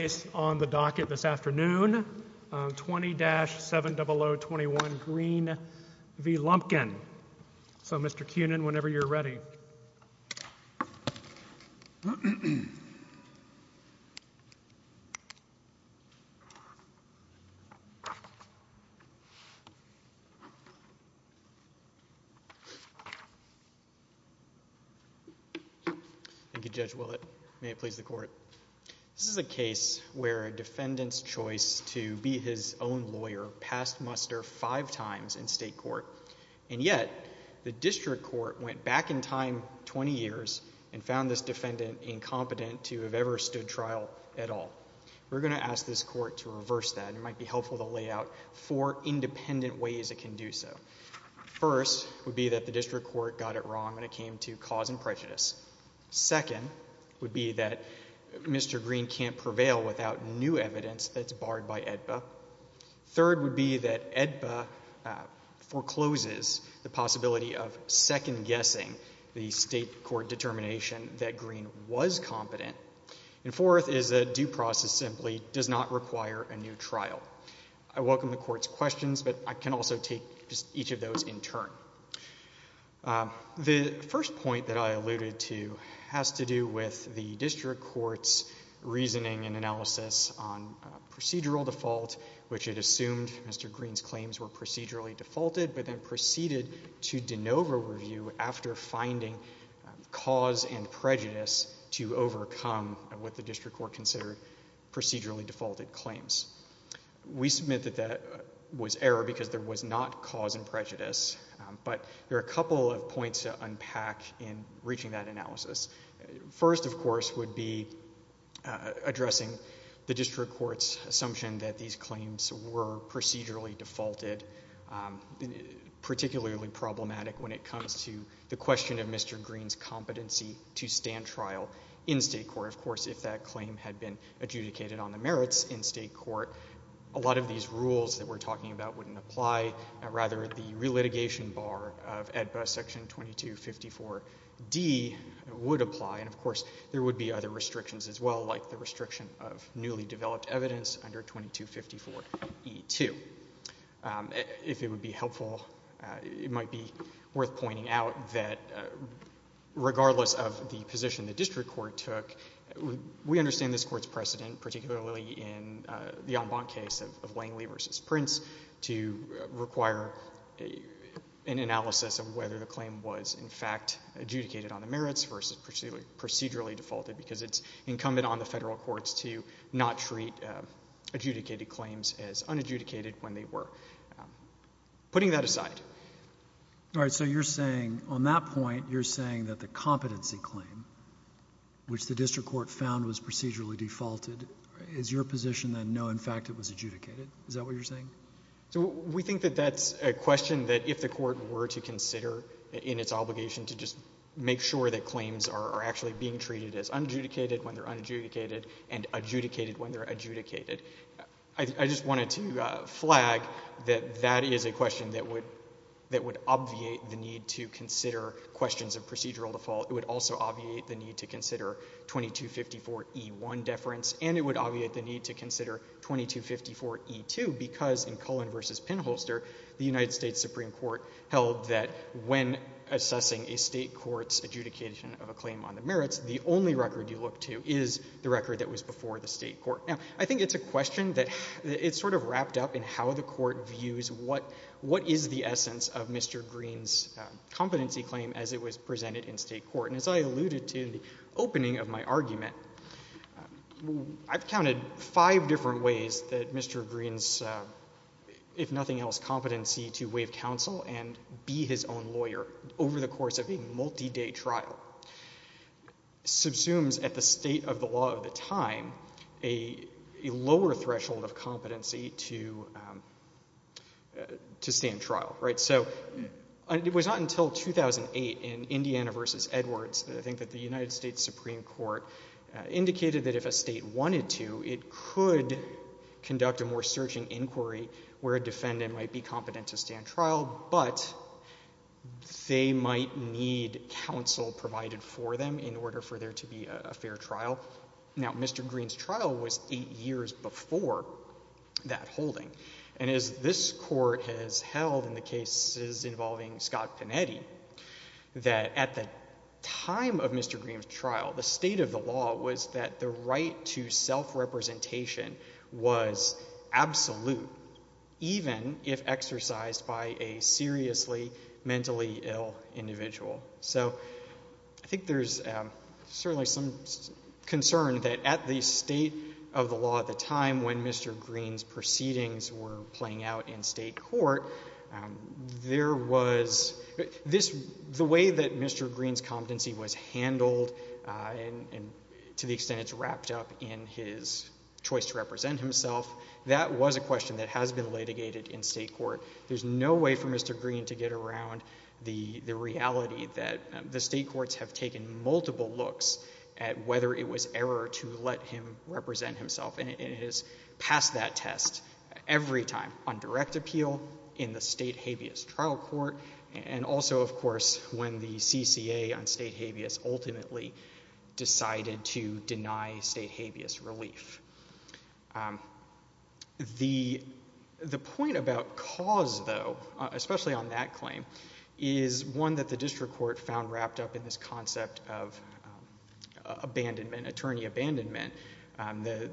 is on the docket this afternoon. 20-70021 Green v. Lumpkin. So, Mr. Kunin, whenever you're ready. Thank you, Judge Willett. May it please the Court. This is a case where a defendant's choice to be his own lawyer passed muster five times in state court, and yet the district court went back in time 20 years and found this defendant incompetent to have ever stood trial at all. We're going to ask this Court to reverse that. It might be helpful to lay out four independent ways it can do so. First would be that the district court got it wrong when it came to cause and prejudice. Second would be that Mr. Green can't prevail without new evidence that's barred by AEDPA. Third would be that AEDPA forecloses the possibility of second-guessing the state court determination that Green was competent. And fourth is that due process simply does not require a new trial. I welcome the Court's questions, but I can also take each of those in turn. The first point that I alluded to has to do with the district court's reasoning and analysis on procedural default, which it assumed Mr. Green's claims were procedurally defaulted, but then proceeded to de novo review after finding cause and prejudice to overcome what the district court considered procedurally defaulted claims. We submit that that was error because there was not cause and prejudice, but there are a couple of points to unpack in reaching that analysis. First, of course, would be addressing the district court's assumption that these claims were procedurally defaulted, particularly problematic when it comes to the question of Mr. Green's competency to stand trial in state court. Of course, if that claim had been adjudicated on the merits in state court, a lot of these rules that we're talking about wouldn't apply. Rather, the relitigation bar of AEDPA section 2254D would apply. And of course, there would be other restrictions as well, like the restriction of newly developed evidence under 2254E2. If it would be helpful, it might be worth pointing out that regardless of the position the district court took, we understand this court's precedent, particularly in the Ambant case of Langley v. Prince, to require an analysis of whether the claim was in fact adjudicated on the merits versus procedurally defaulted, because it's incumbent on the federal courts to not treat adjudicated claims as unadjudicated when they were. Putting that aside. All right. So you're saying on that point, you're saying that the competency claim, which the district court found was procedurally defaulted, is your position that no, in fact it was adjudicated? Is that what you're saying? So we think that that's a question that if the court were to consider in its obligation to just make sure that claims are actually being treated as unadjudicated when they're unadjudicated and adjudicated when they're adjudicated. I just wanted to flag that that is a question that would obviate the need to consider questions of procedural default. It would also obviate the need to consider 2254E1 deference, and it would obviate the need to consider 2254E2, because in Cullen v. Pinholster, the United States Supreme Court held that when assessing a state court's adjudication of a claim on the merits, the only record you look to is the record that was before the state court. Now, I think it's a question that it's sort of wrapped up in how the court views what is the essence of Mr. Green's competency claim as it was presented in state court. And as I alluded to in the opening of my argument, I've counted five different ways that Mr. Green's, if nothing else, competency to waive counsel and be his own lawyer over the course of a multi-day trial subsumes at the state of the law of the time, a lower threshold of competency to stand trial, right? So it was not until 2008 in Indiana v. Edwards that I think that the United States Supreme Court indicated that if a state wanted to, it could conduct a more searching inquiry where a defendant might be competent to stand trial, but they might need counsel provided for them in order for there to be a fair trial. Now, Mr. Green's trial was eight years before that holding. And as this court has held in the cases involving Scott Panetti, that at the time of Mr. Green's trial, the state of the law was that the right to self-representation was absolute, even if exercised by a seriously mentally ill individual. So I think there's certainly some concern that at the state of the law at the time when Mr. Green's proceedings were playing out in state court, there was, the way that Mr. Green's competency was handled and to the extent it's wrapped up in his choice to represent himself, that was a question that has been litigated in state court. There's no way for Mr. Green to get around the reality that the state courts have taken multiple looks at whether it was error to let him represent himself. And it has passed that test every time on direct appeal, in the state habeas trial court, and also, of course, when the CCA on state habeas ultimately decided to deny state habeas relief. The point about cause, though, especially on that claim, is one that the district court found wrapped up in this concept of abandonment, attorney abandonment. The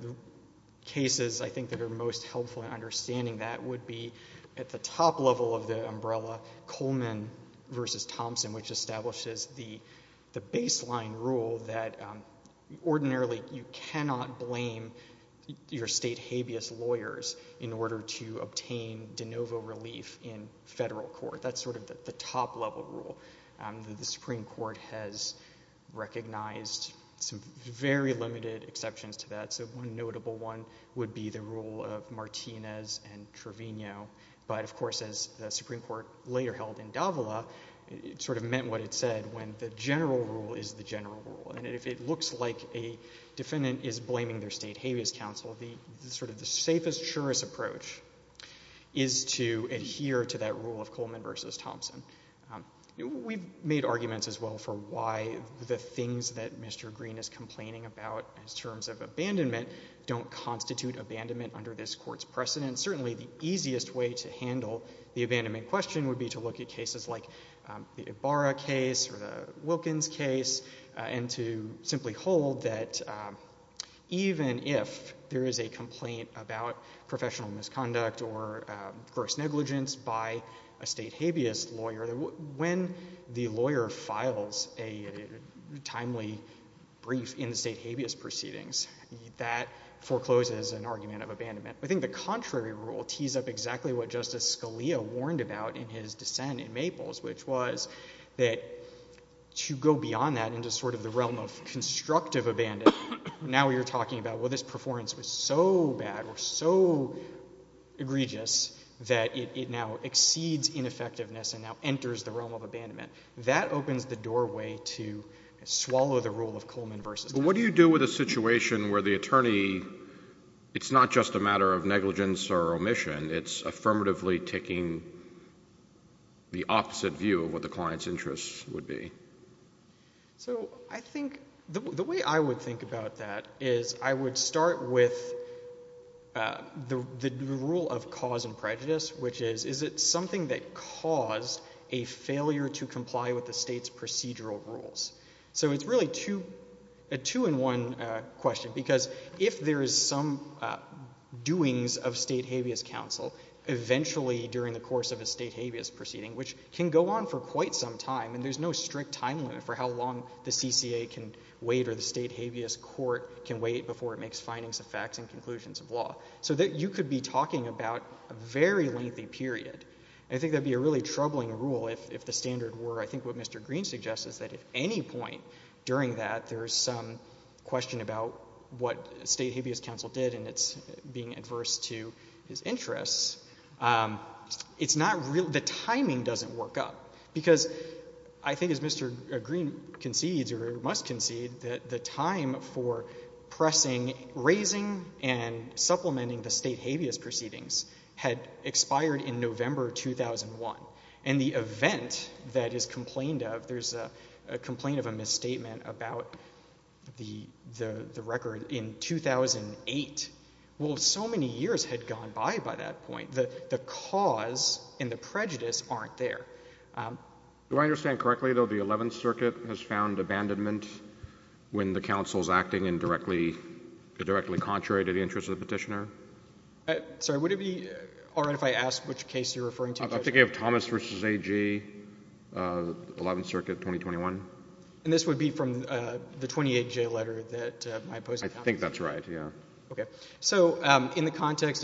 cases, I think, that are most helpful in understanding that would be at the top level of the umbrella, Coleman v. Thompson, which establishes the baseline rule that ordinarily you cannot blame your state habeas lawyers in order to obtain de novo relief in federal court. That's sort of the top level rule. The Supreme Court has recognized some very limited exceptions to that. So one notable one would be the rule of Martinez and Trevino. But, of course, as the Supreme Court later held in Davila, it sort of meant what it said, when the general rule is the general rule. And if it looks like a defendant is blaming their state habeas counsel, the sort of the safest, surest approach is to adhere to that rule of Coleman v. Thompson. We've made arguments as well for why the things that Mr. Green is complaining about in terms of abandonment don't constitute abandonment under this court's precedent. Certainly the easiest way to handle the abandonment question would be to look at cases like the Ibarra case or the Wilkins case and to simply hold that even if there is a complaint about professional misconduct or gross negligence by a state habeas lawyer, when the lawyer files a timely brief in the state habeas proceedings, that forecloses an argument of abandonment. I think the contrary rule tees up exactly what Justice Scalia warned about in his dissent in Maples, which was that to go beyond that into sort of the realm of constructive abandonment, now you're talking about, well, this performance was so bad or so egregious that it now exceeds ineffectiveness and now enters the realm of abandonment. That opens the doorway to swallow the rule of Coleman v. Thompson. What do you do with a situation where the attorney, it's not just a matter of negligence or omission, it's affirmatively taking the opposite view of what the client's interests would be? So, I think, the way I would think about that is I would start with the rule of cause and prejudice, which is, is it something that caused a failure to comply with the state's procedural rules? So it's really a two-in-one question, because if there is some doings of state habeas counsel, eventually during the course of a state habeas proceeding, which can go on for quite some time, and there's no strict time limit for how long the CCA can wait or the state habeas court can wait before it makes findings of facts and conclusions of law, so that you could be talking about a very lengthy period. I think that would be a really troubling rule if the standard were, I think what Mr. Green suggests is that at any point during that there is some question about what state habeas counsel did and it's being adverse to his interests. It's not really, the timing doesn't work up, because I think as Mr. Green concedes, or must concede, that the time for pressing, raising, and supplementing the state habeas proceedings had expired in November 2001, and the event that is complained of, there's a complaint of a misstatement about the record in 2008, will certainly be a configuration to shut down. Here's what the federal court would say. You would not have and I would not have put this right. You wouldn't have put this right. These are not in the context of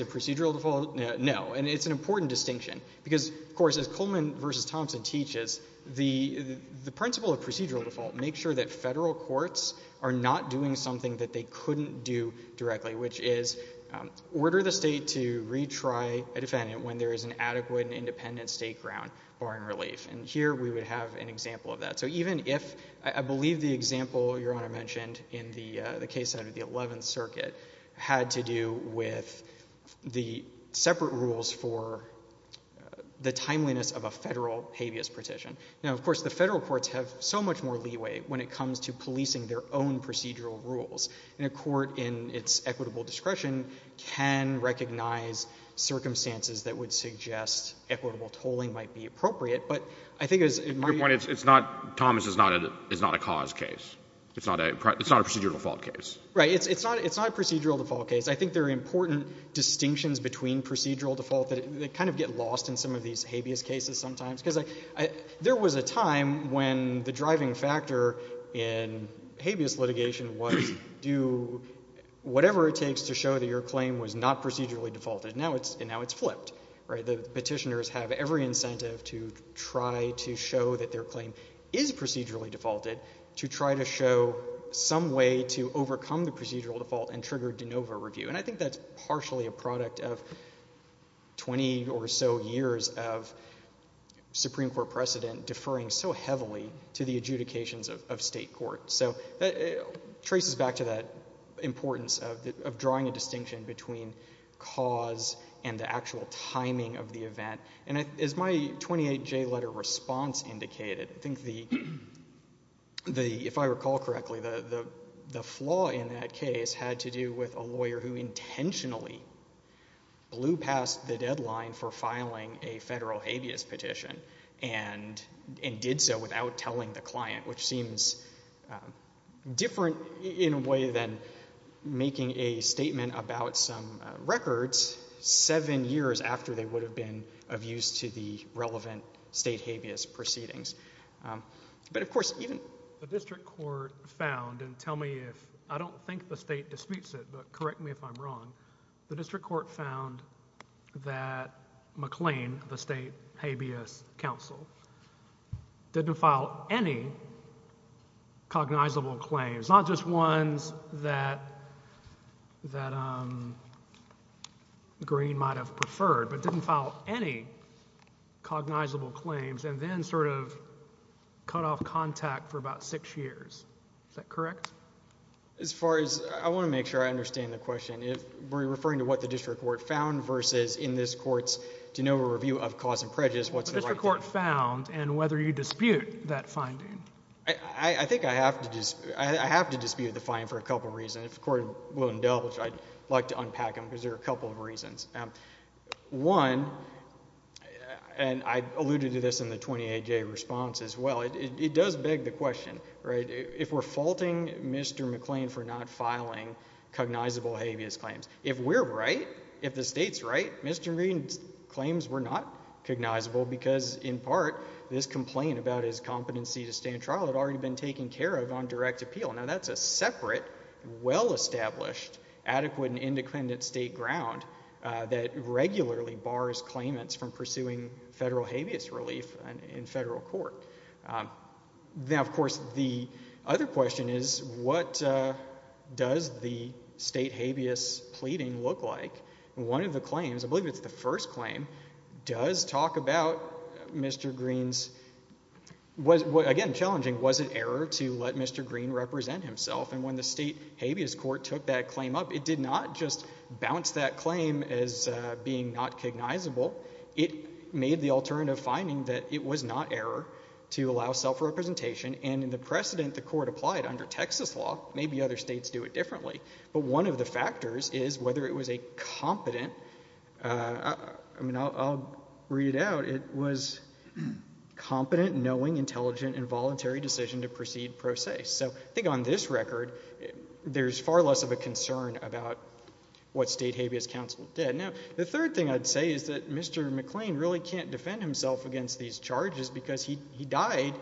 procedural default. No. And it's an important distinction. Because of course as Coleman v. Thompson teaches, the principle of procedural default makes sure that federal courts are not doing something that they couldn't do directly, which is order the state to retry a defendant when there is an adequate and independent state ground barring relief. And here we would have an example of that. So even if, I believe the separate rules for the timeliness of a federal habeas petition. Now of course the federal courts have so much more leeway when it comes to policing their own procedural rules. And a court in its equitable discretion can recognize circumstances that would suggest equitable tolling might be appropriate. But I think it's... Your point is it's not, Thomas, it's not a cause case. It's not a procedural default case. Right. It's not a procedural default case. I think there are important distinctions between procedural default that kind of get lost in some of these habeas cases sometimes. Because there was a time when the driving factor in habeas litigation was do whatever it takes to show that your claim was not procedurally defaulted. Now it's flipped. The petitioners have every incentive to try to show that their claim is procedurally defaulted to try to show some way to overcome the procedural default and trigger de novo review. And I think that's partially a product of 20 or so years of Supreme Court precedent deferring so heavily to the adjudications of state courts. So it traces back to that importance of drawing a distinction between cause and the actual timing of the event. And as my 28J letter response indicated, I think the, if I recall correctly, the flaw in that case had to do with a lawyer who intentionally blew past the deadline for filing a federal habeas petition and did so without telling the client, which seems different in a way than making a statement about some records seven years after they would have been of use to the relevant state habeas proceedings. But of course, even the district court found, and tell me if, I don't think the state disputes it, but correct me if I'm wrong, the district court found that McLean, the state habeas counsel, didn't file any cognizable claims, not just ones that, that, you know, that were green might have preferred, but didn't file any cognizable claims and then sort of cut off contact for about six years. Is that correct? As far as, I want to make sure I understand the question. If we're referring to what the district court found versus in this court's de novo review of cause and prejudice, what's the right thing? The district court found and whether you dispute that finding. I, I think I have to dispute, I have to dispute the finding for a couple of reasons. If the court will indulge, I'd like to unpack them because there are a couple of reasons. One, and I alluded to this in the 28 day response as well, it does beg the question, right? If we're faulting Mr. McLean for not filing cognizable habeas claims, if we're right, if the state's right, Mr. McLean's claims were not cognizable because in part this complaint about his competency to stand trial had already been taken care of on direct appeal. Now that's a separate, well-established, adequate and state ground that regularly bars claimants from pursuing federal habeas relief in federal court. Now, of course, the other question is what does the state habeas pleading look like? One of the claims, I believe it's the first claim, does talk about Mr. Green's, again, challenging, was it error to let Mr. Green represent himself? And when the state bounced that claim as being not cognizable, it made the alternative finding that it was not error to allow self-representation. And in the precedent the court applied under Texas law, maybe other states do it differently. But one of the factors is whether it was a competent, I'll read it out, it was competent, knowing, intelligent, and voluntary decision to proceed pro se. So I think on this record, there's far less of a concern about what state habeas counsel did. Now, the third thing I'd say is that Mr. McLean really can't defend himself against these charges because he died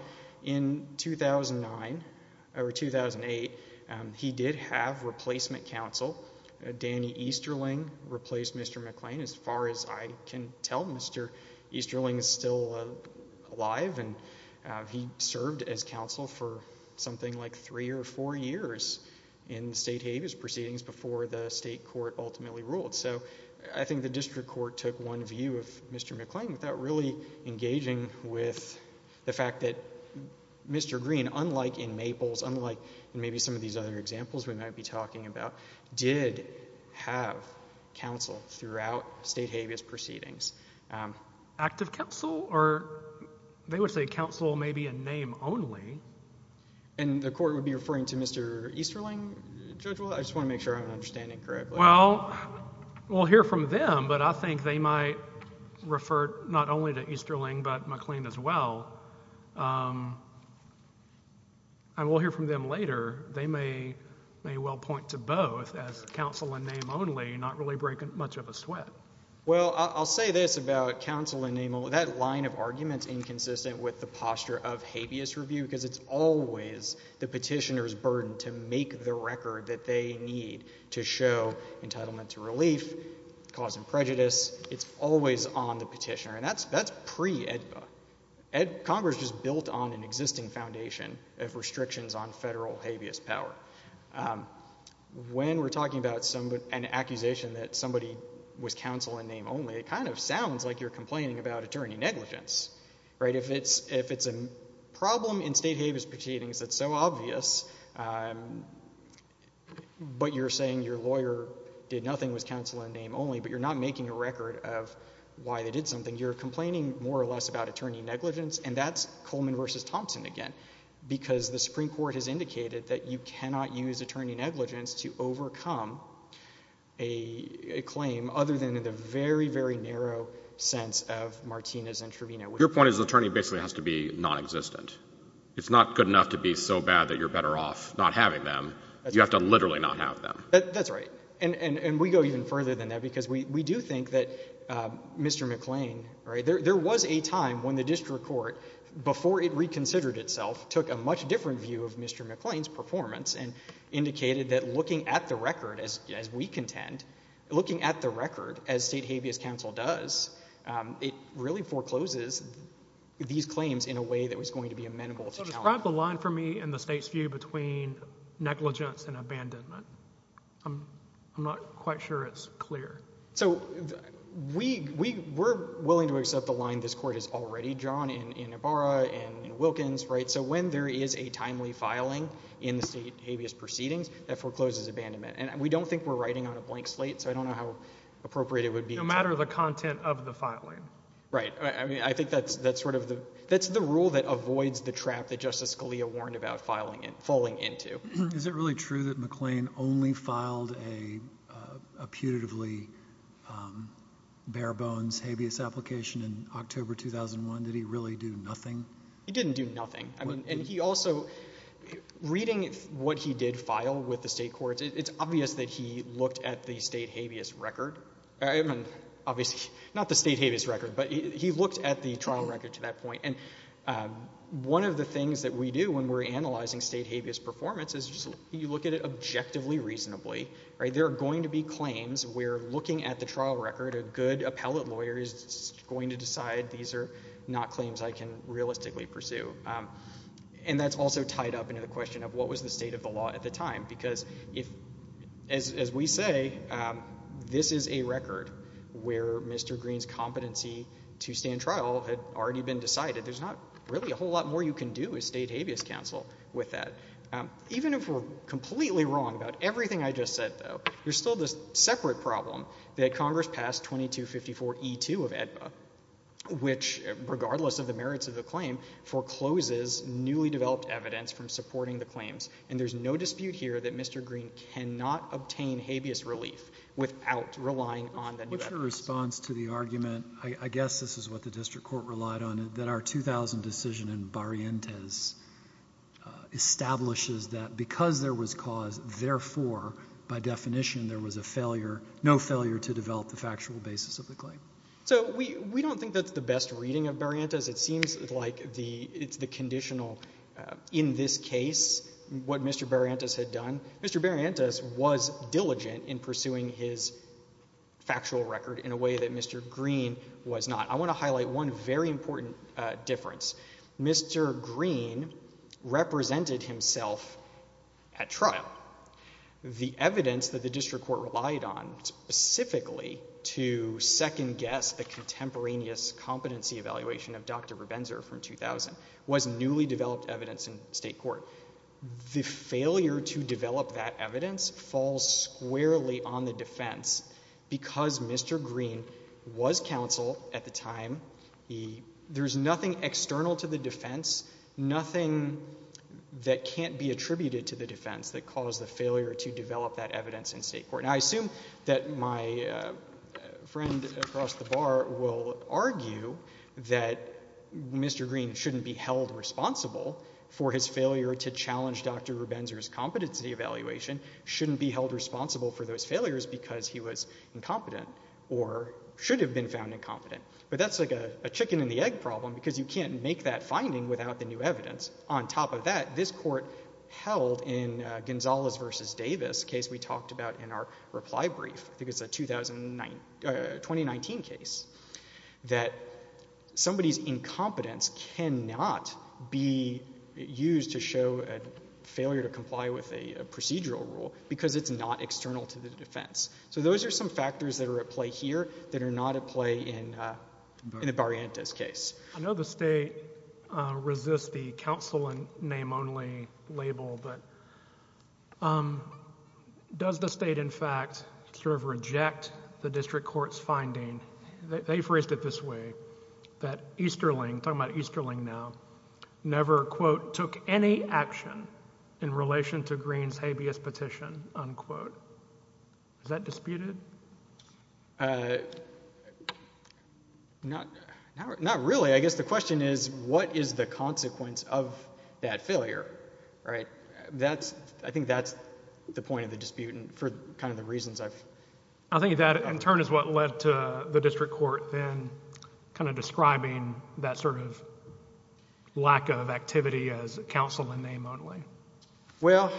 in 2009, or 2008. He did have replacement counsel. Danny Easterling replaced Mr. McLean. As far as I can tell, Mr. Easterling is still alive, and he served as counsel for something like three or four years in state habeas proceedings before the state court ultimately ruled. So I think the district court took one view of Mr. McLean without really engaging with the fact that Mr. Green, unlike in Maples, unlike in maybe some of these other examples we might be talking about, did have counsel throughout state habeas proceedings. Active counsel, or they would say counsel maybe in name only. And the court would be referring to Mr. Easterling, Judge Willett? I just want to make sure I'm understanding correctly. Well, we'll hear from them, but I think they might refer not only to Easterling, but McLean as well. And we'll hear from them later. They may well point to both as counsel in name only, not really breaking much of a sweat. Well, I'll say this about counsel in name only. That line of argument's inconsistent with the posture of habeas review because it's always the petitioner's burden to make the record that they need to show entitlement to relief, cause and prejudice. It's always on the petitioner. And that's pre-EDBA. Congress just built on an existing foundation of restrictions on federal habeas power. When we're talking about an accusation that somebody was counsel in name only, it kind of sounds like you're complaining about attorney negligence. If it's a problem in state habeas proceedings that's so obvious, but you're saying your lawyer did nothing, was counsel in name only, but you're not making a record of why they did something, you're complaining more or less about attorney negligence. And that's Coleman versus Thompson again. Because the Supreme Court has indicated that you cannot use attorney negligence to overcome a claim other than in the very, very narrow sense of Martinez and Trevino. Your point is the attorney basically has to be nonexistent. It's not good enough to be so bad that you're better off not having them. You have to literally not have them. That's right. And we go even further than that because we do think that Mr. McLean, there was a time when the district court, before it reconsidered itself, took a much different view of Mr. McLean's performance and indicated that looking at the record as we contend, looking at the record as state habeas counsel does, it really forecloses these claims in a way that was going to be amenable to challenge. So describe the line for me in the state's view between negligence and abandonment. I'm not quite sure it's clear. So we're willing to accept the line this court has already drawn in Ibarra and Wilkins, right? So when there is a timely filing in the state habeas proceedings, that forecloses abandonment. And we don't think we're writing on a blank slate, so I don't know how appropriate it would be. No matter the content of the filing. Right. I mean, I think that's the rule that avoids the trap that Justice Scalia warned about falling into. Is it really true that McLean only filed a putatively bare-bones habeas application in October 2001? Did he really do nothing? He didn't do nothing. And he also, reading what he did file with the state courts, it's obvious that he looked at the state habeas record. I mean, obviously, not the state habeas record, but he looked at the trial record to that point. And one of the things that we do when we're analyzing state habeas performance is you look at it objectively, reasonably. There are going to be claims where looking at the trial record, a good appellate lawyer is going to decide these are not claims I can realistically pursue. And that's also tied up into the question of what was the state of the law at the time? Because as we say, this is a record where Mr. Greene's competency to stand trial had already been established, establishes that because there was cause, therefore, by definition, there was a failure, no failure to develop the factual basis of the claim. So we don't think that's the best reading of Barrientos. It seems like it's the conditional in this case, what Mr. Barrientos had done. Mr. Barrientos was diligent in pursuing his factual record in a way that Mr. Greene was not. I want to highlight one very important difference. Mr. Greene represented himself at trial. The evidence that the district court relied on specifically to second guess the contemporaneous competency evaluation of Dr. Rabenzer from 2000 was newly developed evidence in state court. The failure to develop that evidence falls squarely on the defense because Mr. Greene was counsel at the time. There's nothing external to the defense, nothing that can't be attributed to the defense that caused the failure to develop that evidence in state court. Now I assume that my friend across the bar will argue that Mr. Greene shouldn't be held responsible for his failure to challenge Dr. Rabenzer's competency evaluation, shouldn't be held responsible for those failures because he was incompetent or should have been found incompetent. But that's like a chicken and you can't make that finding without the new evidence. On top of that, this court held in Gonzalez versus Davis case we talked about in our reply brief, I think it's a 2019 case, that somebody's incompetence cannot be used to show a failure to comply with a procedural rule because it's not external to the defense. So those are some factors that are at play here that are not at play in Barrientos case. I know the state resists the counsel and name only label but does the state in fact sort of reject the district court's finding, they phrased it this way, that Easterling, talking about Easterling now, never quote took any action in relation to it. Not really. I guess the question is what is the consequence of that failure, right? I think that's the point of the dispute and for kind of the reasons I've... I think that in turn is what led to the district court then kind of describing that sort of lack of activity as counsel and name only. Well,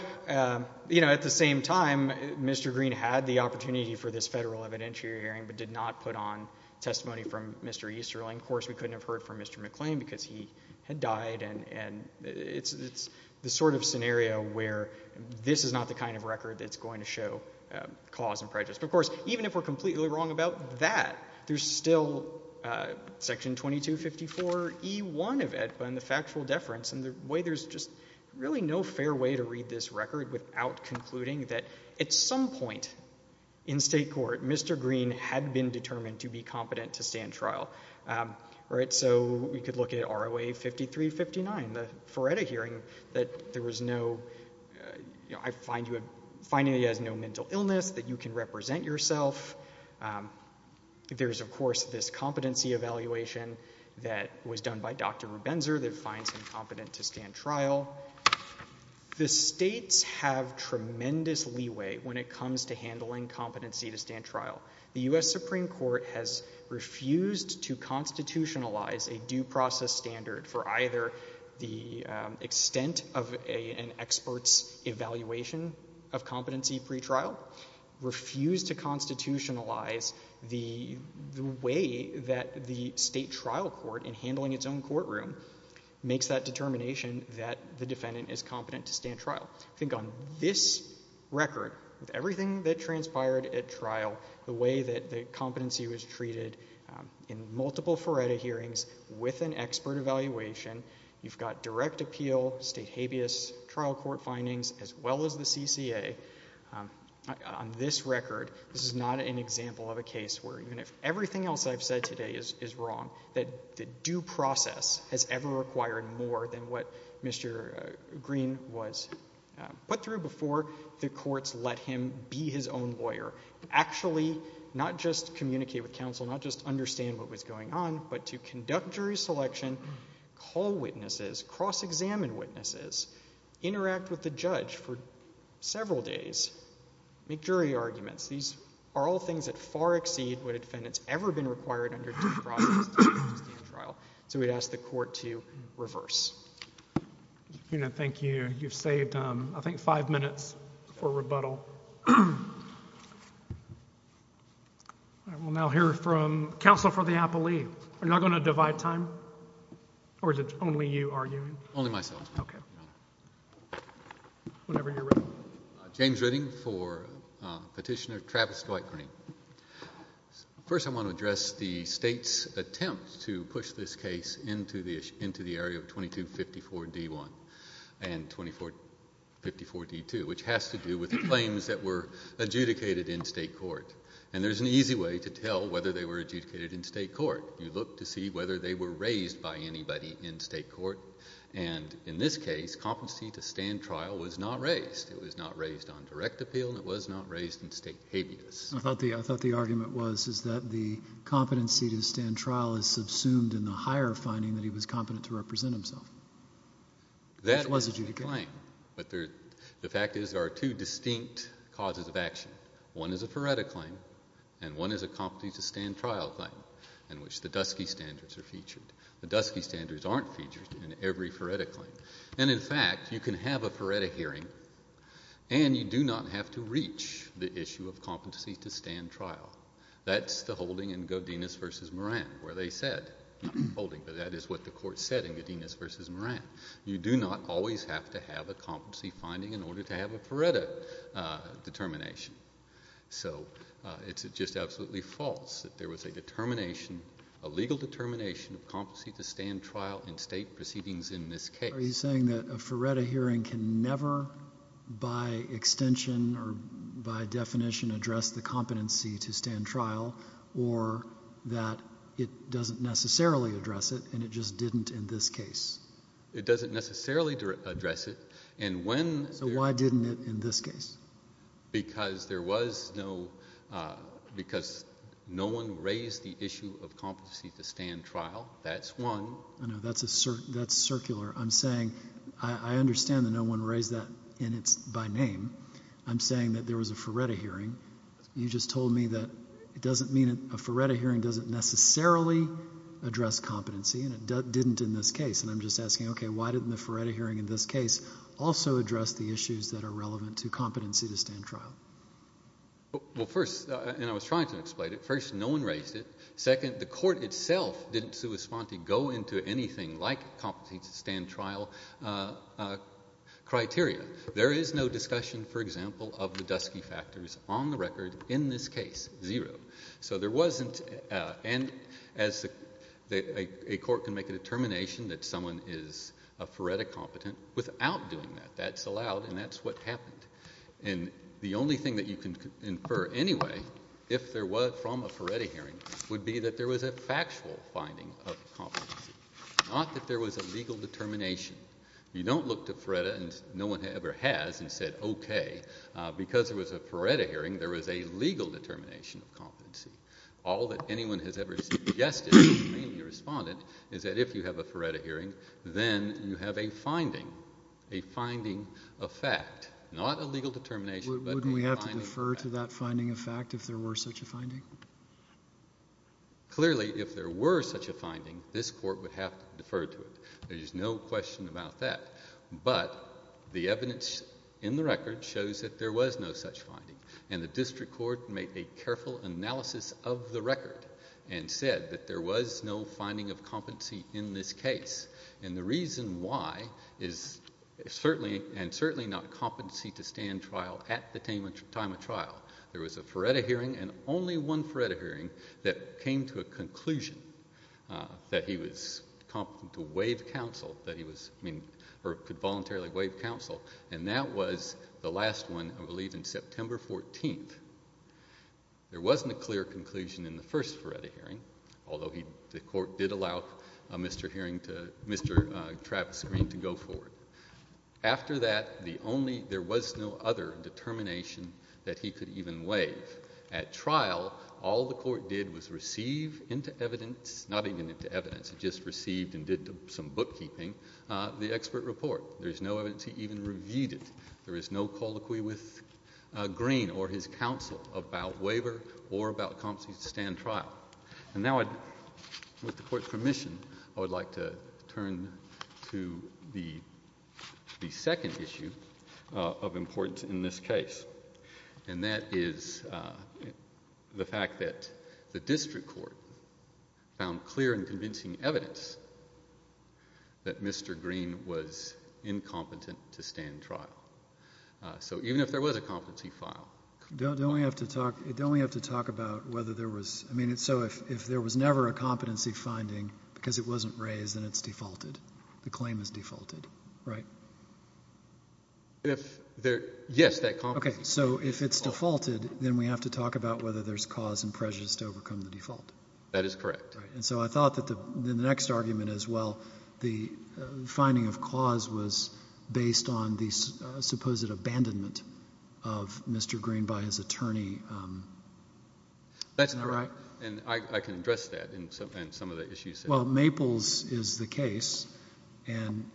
you know, at the same time, Mr. Greene had the opportunity for this federal evidentiary hearing but did not put on testimony from Mr. Easterling. Of course, we couldn't have heard from Mr. McClain because he had died and it's the sort of scenario where this is not the kind of record that's going to show cause and prejudice. But of course, even if we're completely wrong about that, there's still section 2254e1 of EDPA and the factual deference and the way there's just really no fair way to read this record without concluding that at some point in state court, Mr. Greene had been determined to be competent to stand trial, right? So we could look at ROA 5359, the Feretta hearing, that there was no... I find he has no mental illness that you can represent yourself. There's, of course, this competency evaluation that was done by Dr. Rubenzer that finds him competent to stand trial. The states have tremendous leeway when it comes to handling competency to stand trial. The U.S. Supreme Court has refused to constitutionalize a due process standard for either the extent of an expert's evaluation of competency pre-trial, refused to constitutionalize the way that the state trial court in handling its own courtroom makes that determination that the defendant is competent to stand trial. I think on this record, it transpired at trial the way that the competency was treated in multiple Feretta hearings with an expert evaluation. You've got direct appeal, state habeas, trial court findings, as well as the CCA. On this record, this is not an example of a case where even if everything else I've said today is wrong, that the due process has ever required more than what Mr. Greene was put through before the courts let him be his own lawyer. Actually, not just communicate with counsel, not just understand what was going on, but to conduct jury selection, call witnesses, cross-examine witnesses, interact with the judge for several days, make jury arguments. These are all things that far exceed what a defendant's ever been required under due process to stand trial. So we'd ask the court to reverse. Thank you. You've saved, I think, five minutes for rebuttal. All right, we'll now hear from counsel for the appellee. We're not going to divide time, or is it only you arguing? Only myself. Okay. Whenever you're ready. James Ritting for Petitioner Travis Dwight Greene. First, I want to address the state's attempt to push this case into the area of 2254-D1 and 2254-D2, which has to do with the claims that were adjudicated in state court. And there's an easy way to tell whether they were adjudicated in state court. You look to see whether they were raised by anybody in state court. And in this case, competency to stand trial was not raised. It was not raised on direct appeal, and it was not raised in state habeas. I thought the argument was that the competency to stand trial is subsumed in the higher finding that he was competent to represent himself, which was adjudicated. That was the claim. But the fact is there are two distinct causes of action. One is a FARETA claim, and one is a competency to stand trial claim, in which the DUSCIE standards are featured. The DUSCIE standards aren't featured in every FARETA hearing. And you do not have to reach the issue of competency to stand trial. That's the holding in Godinez v. Moran, where they said, not the holding, but that is what the court said in Godinez v. Moran. You do not always have to have a competency finding in order to have a FARETA determination. So it's just absolutely false that there was a determination, a legal determination of competency to stand trial in state proceedings in this case. You're saying that a FARETA hearing can never, by extension or by definition, address the competency to stand trial, or that it doesn't necessarily address it, and it just didn't in this case? It doesn't necessarily address it. So why didn't it in this case? Because there was no, because no one raised the issue of competency to stand trial. That's one. I know, that's circular. I'm saying, I understand that no one raised that by name. I'm saying that there was a FARETA hearing. You just told me that it doesn't mean a FARETA hearing doesn't necessarily address competency, and it didn't in this case. And I'm just asking, okay, why didn't the FARETA hearing in this case also address the issues that are relevant to competency to stand trial? Well, first, and I was trying to explain it, first, no one raised it. Second, the court itself didn't correspond to go into anything like competency to stand trial criteria. There is no discussion, for example, of the dusky factors on the record in this case, zero. So there wasn't, and as a court can make a determination that someone is a FARETA competent without doing that. That's allowed, and that's what happened. And the only thing that you can infer anyway, if there was from a FARETA hearing, would be that there was a factual finding of competency, not that there was a legal determination. You don't look to FARETA, and no one ever has, and said, okay, because there was a FARETA hearing, there was a legal determination of competency. All that anyone has ever suggested, mainly the respondent, is that if you have a FARETA hearing, then you have a finding, a finding of fact, not a legal determination. Wouldn't we have to defer to that finding of fact if there were such a finding? Clearly, if there were such a finding, this court would have to defer to it. There's no question about that, but the evidence in the record shows that there was no such finding, and the district court made a careful analysis of the record and said that there was no finding of competency in this case, and the reason why is certainly, and certainly not competency to stand trial at the time of trial. There was a FARETA hearing, and only one FARETA hearing that came to a conclusion that he was competent to waive counsel, that he could voluntarily waive counsel, and that was the last one, I believe, in September 14th. There wasn't a clear conclusion in the first Mr. hearing to Mr. Travis Green to go forward. After that, the only, there was no other determination that he could even waive. At trial, all the court did was receive into evidence, not even into evidence, it just received and did some bookkeeping, the expert report. There's no evidence he even reviewed it. There is no colloquy with Green or his counsel about waiver or about permission. I would like to turn to the second issue of importance in this case, and that is the fact that the district court found clear and convincing evidence that Mr. Green was incompetent to stand trial, so even if there was a competency file. Don't we have to talk, don't we have to talk about whether there was, I mean, so if there was never a competency finding because it wasn't raised, then it's defaulted. The claim is defaulted, right? If there, yes, that competency. Okay, so if it's defaulted, then we have to talk about whether there's cause and prejudice to overcome the default. That is correct. And so I thought that the next argument as well, the finding of cause was based on the supposed abandonment of Mr. Green by his attorney. That's not right, and I can address that in some of the issues. Well, Maples is the case, and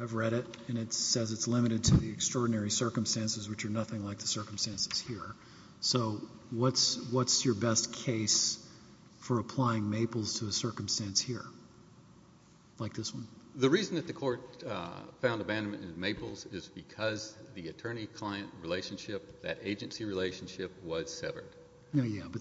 I've read it, and it says it's limited to the extraordinary circumstances, which are nothing like the circumstances here. So what's your best case for applying Maples to a circumstance here, like this one? The reason that the court found abandonment in Maples is because the attorney-client relationship, that agency relationship, was severed. Yeah, but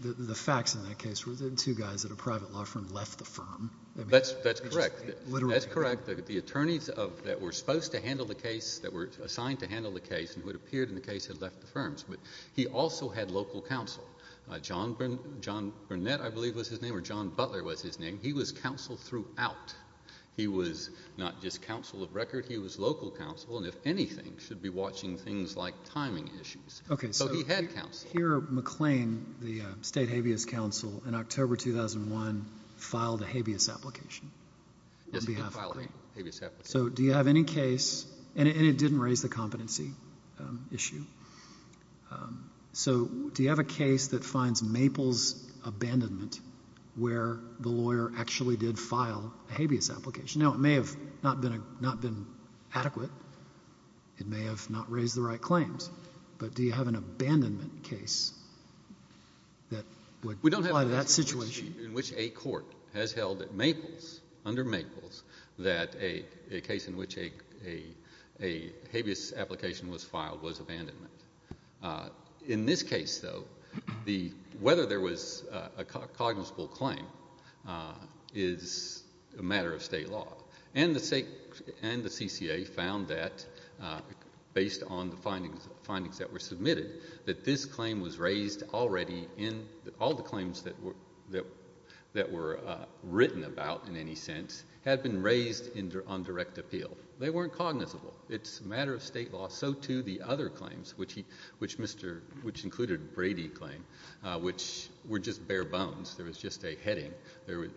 the facts in that case were the two guys at a private law firm left the firm. That's correct. That's correct. The attorneys that were supposed to handle the case, that were assigned to handle the case, and who had appeared in the case, had left the firms, but he also had local counsel. John Burnett, I believe, was his name, or John Butler was his name. He was counsel of record. He was local counsel, and if anything, should be watching things like timing issues. Okay, so he had counsel. Here, McLean, the state habeas counsel, in October 2001, filed a habeas application. So do you have any case, and it didn't raise the competency issue, so do you have a case that finds Maples' abandonment where the lawyer actually did not have been adequate? It may have not raised the right claims, but do you have an abandonment case that would apply to that situation? We don't have a situation in which a court has held at Maples, under Maples, that a case in which a habeas application was filed was abandonment. In this case, though, whether there was a cognizable claim is a matter of state law, and the CCA found that, based on the findings that were submitted, that this claim was raised already in, all the claims that were written about, in any sense, had been raised on direct appeal. They weren't cognizable. It's a matter of state law. So, too, the other claims, which included Brady's claim, which were just bare bones. There was just a heading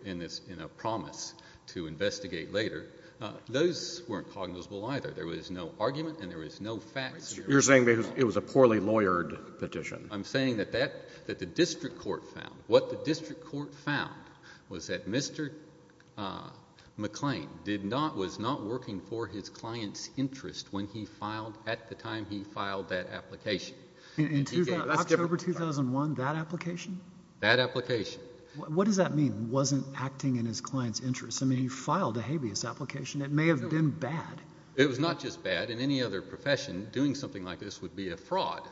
in a promise to investigate later. Those weren't cognizable, either. There was no argument, and there was no facts. You're saying it was a poorly lawyered petition. I'm saying that the district court found, what the district court found was that Mr. McClain did not, was not working for his client's interest when he filed, at the time he filed that application. In October 2001, that application? That application. What does that mean, wasn't acting in his client's interest? I mean, he filed a habeas application. It may have been bad. It was not just bad. In any other profession, doing something like this would be a fraud,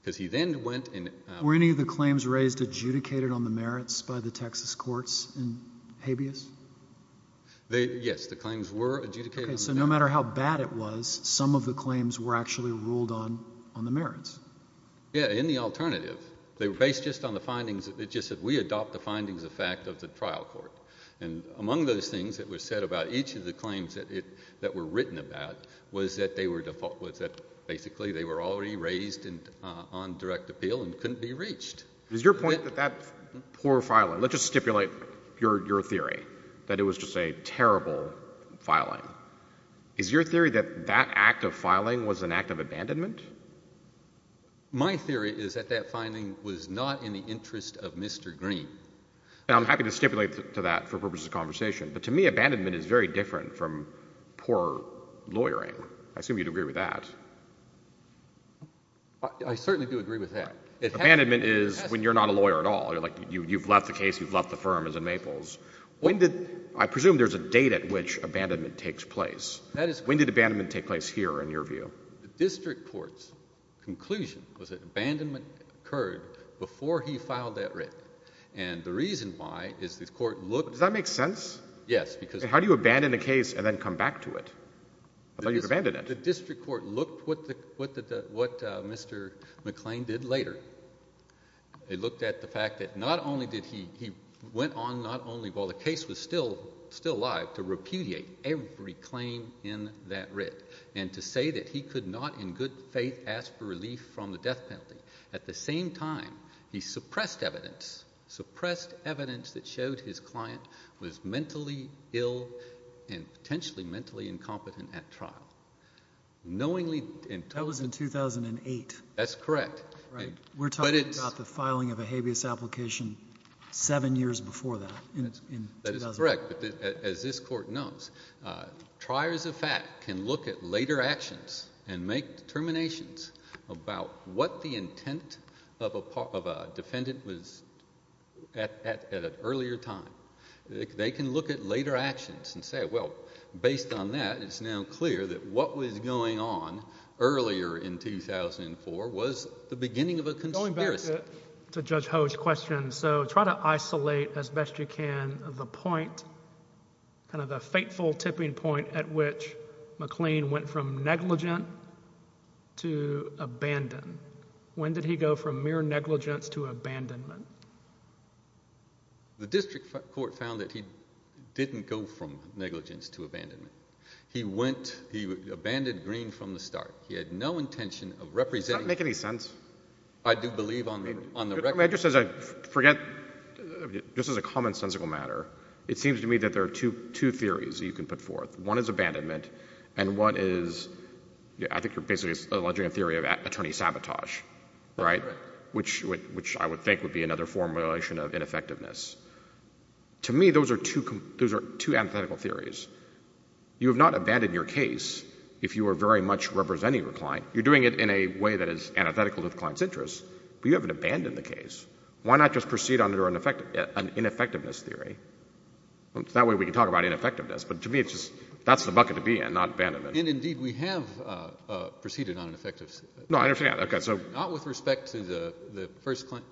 because he then went and- Were any of the claims raised adjudicated on the merits by the Texas courts in habeas? They, yes, the claims were adjudicated. Okay, so no matter how bad it was, some of the claims were actually ruled on, on the merits. Yeah, in the alternative. They were based just on the findings. It just said, we adopt the findings of fact of the trial court. And among those things that were said about each of the claims that it, that were written about, was that they were default, was that basically they were already raised in, on direct appeal and couldn't be reached. Is your point that that poor filing, let's just stipulate your, your theory, that it was just a terrible filing. Is your theory that that act of filing was an act of abandonment? My theory is that that finding was not in the interest of Mr. Green. Now, I'm happy to stipulate to that for purposes of conversation, but to me, abandonment is very different from poor lawyering. I assume you'd agree with that. I certainly do agree with that. Abandonment is when you're not a lawyer at all. You're like, you, you've left the case, you've left the firm as in Maples. When did, I presume there's a date at which abandonment takes place. When did abandonment take place here in your view? The district court's conclusion was that abandonment occurred before he filed that writ. And the reason why is the court looked... Does that make sense? Yes, because... How do you abandon a case and then come back to it? I thought you abandoned it. The district court looked what the, what the, what Mr. McClain did later. They looked at the fact that not only did he, he went on not only while the case was still, still alive, to repudiate every claim in that writ and to say that he could not in good faith ask for relief from the death penalty. At the same time, he suppressed evidence, suppressed evidence that showed his client was mentally ill and potentially mentally incompetent at trial. Knowingly... That was in 2008. That's correct. Right. We're talking about the filing of a habeas application seven years before that. That is correct. As this court knows, triers of fact can look at later actions and make determinations about what the intent of a defendant was at an earlier time. They can look at later actions and say, well, based on that, it's now clear that what was going on earlier in 2004 was the beginning of a conspiracy. To Judge Ho's question, so try to isolate as best you can the point, kind of the fateful tipping point at which McLean went from negligent to abandon. When did he go from mere negligence to abandonment? The district court found that he didn't go from negligence to abandonment. He went, he abandoned Green from the start. He had no intention of representing... Does that make any sense? I do believe on the record... Just as I forget, just as a commonsensical matter, it seems to me that there are two theories that you can put forth. One is abandonment. And one is, I think you're basically alleging a theory of attorney sabotage, right? Which I would think would be another formulation of ineffectiveness. To me, those are two antithetical theories. You have not abandoned your case if you are very much representing your client. You're doing it in a way that is antithetical to the client's interests, but you haven't abandoned the case. Why not just proceed under an ineffectiveness theory? That way we can talk about ineffectiveness. But to me, it's just, that's the bucket to be in, not abandonment. And indeed, we have proceeded on an effective... No, I understand. Okay, so... Not with respect to the first claim,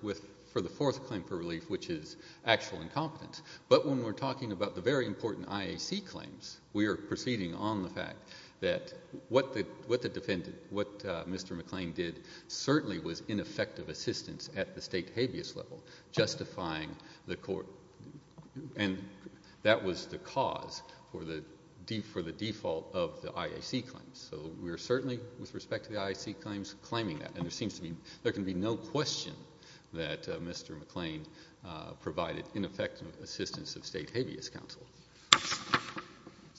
for the fourth claim for relief, which is actual incompetence. But when we're talking about the very important IAC claims, we are proceeding on the fact that what the defendant, what Mr. McClain did, certainly was ineffective assistance at the state habeas level, justifying the court. And that was the cause for the default of the IAC claims. So we're certainly, with respect to the IAC claims, claiming that. And there can be no question that Mr. McClain provided ineffective assistance of state habeas counsel.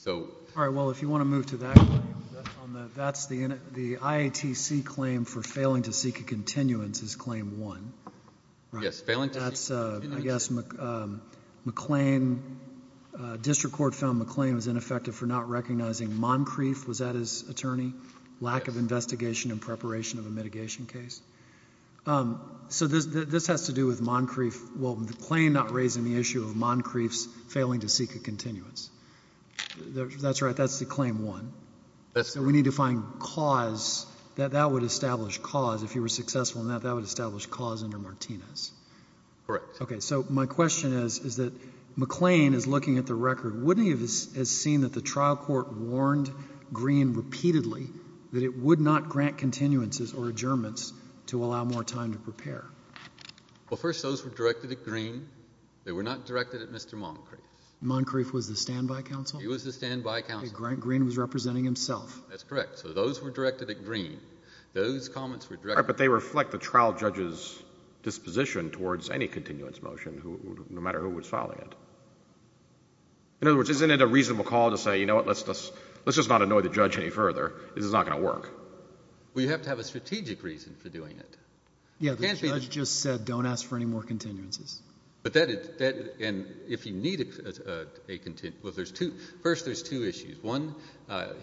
All right, well, if you want to move to that claim, that's the IATC claim for failing to seek a continuance is claim one. That's, I guess, McClain, district court found McClain was ineffective for not recognizing Moncrief, was that his attorney? Lack of investigation and preparation of a mitigation case. So this has to do with Moncrief, well, the claim not raising the issue of Moncrief's failing to seek a continuance. That's right, that's the claim one. We need to find cause, that would establish cause, if he were successful in that, that would establish cause under Martinez. Correct. Okay, so my question is, is that McClain is looking at the record, wouldn't he have seen that the trial court warned Green repeatedly that it would not grant continuances or adjournments to allow more time to prepare? Well, first, those were directed at Green, they were not directed at Mr. Moncrief. Moncrief was the standby counsel? He was the standby counsel. Green was representing himself. That's correct, so those were directed at Green, those comments were directed at Green. All right, but they reflect the trial judge's disposition towards any continuance motion, no matter who was filing it. In other words, isn't it a reasonable call to say, you know what, let's just not annoy the judge any further, this is not going to work? Well, you have to have a strategic reason for that. Yeah, the judge just said don't ask for any more continuances. But that, and if you need a continuance, well, there's two, first there's two issues. One,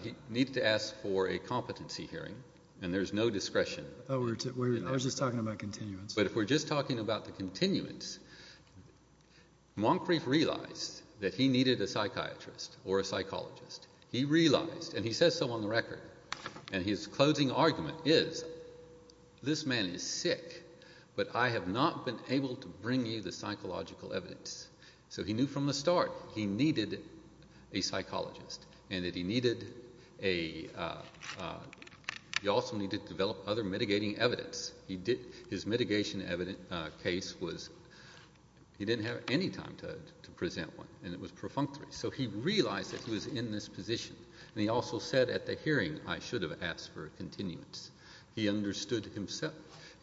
he needed to ask for a competency hearing, and there's no discretion. Oh, I was just talking about continuance. But if we're just talking about the continuance, Moncrief realized that he needed a psychiatrist or a psychologist. He realized, and he says so on the record, and his closing argument is, this man is sick, but I have not been able to bring you the psychological evidence. So he knew from the start he needed a psychologist, and that he needed a, he also needed to develop other mitigating evidence. He did, his mitigation evidence case was, he didn't have any time to present one, and it was perfunctory. So he realized that he was in this position, and he also said at the hearing, I should have asked for a continuance. He understood himself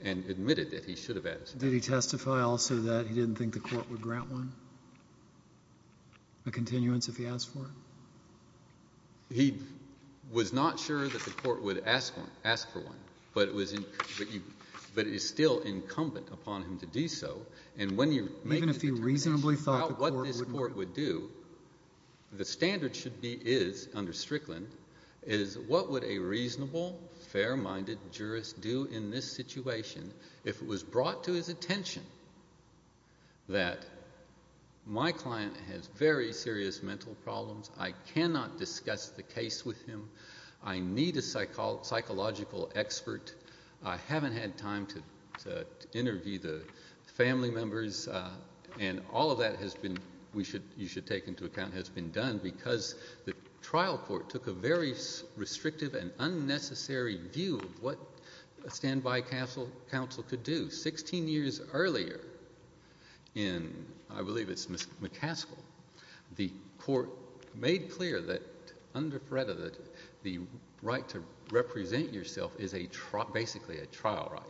and admitted that he should have asked. Did he testify also that he didn't think the court would grant one, a continuance, if he asked for it? He was not sure that the court would ask for one, but it was, but it is still incumbent upon him to do so, and when you make a determination about what this court would do, the standard should be is, under Strickland, is what would a reasonable, fair-minded jurist do in this situation if it was brought to his attention that my client has very serious mental problems, I cannot discuss the case with him, I need a psychological expert, I haven't had time to interview the family members, and all of that has been, we should, you should take into account, has been done because the trial court took a very restrictive and unnecessary view of what standby counsel could do. 16 years earlier, in, I believe it's McCaskill, the court made clear that the right to represent yourself is a trial, basically a trial right,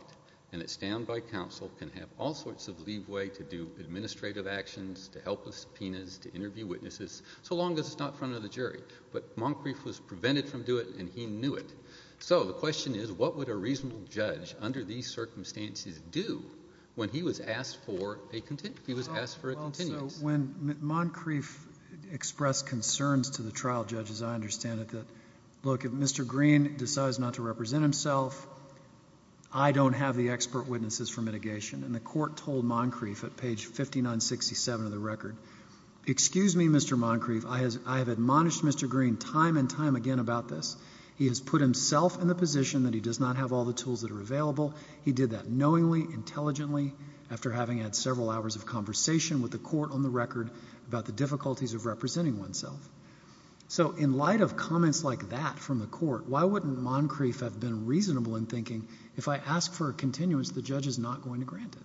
and that standby counsel can have all sorts of leeway to do administrative actions, to help with subpoenas, to interview witnesses, so long as it's not in front of the jury. But Moncrief was prevented from doing it, and he knew it. So the question is, what would a reasonable judge under these circumstances do when he was asked for a continuance? He was asked for a continuance. When Moncrief expressed concerns to the trial judges, I understand that, look, if Mr. Green decides not to represent himself, I don't have the expert witnesses for mitigation, and the court told Moncrief at page 5967 of the record, excuse me, Mr. Moncrief, I have admonished Mr. Green time and time again about this. He has put himself in the position that he does not have all the tools that are available. He did that knowingly, intelligently, after having had several hours of conversation with the court on the record about the difficulties of representing oneself. So in light of comments like that from the court, why wouldn't Moncrief have been reasonable in thinking, if I ask for a continuance, the judge is not going to grant it?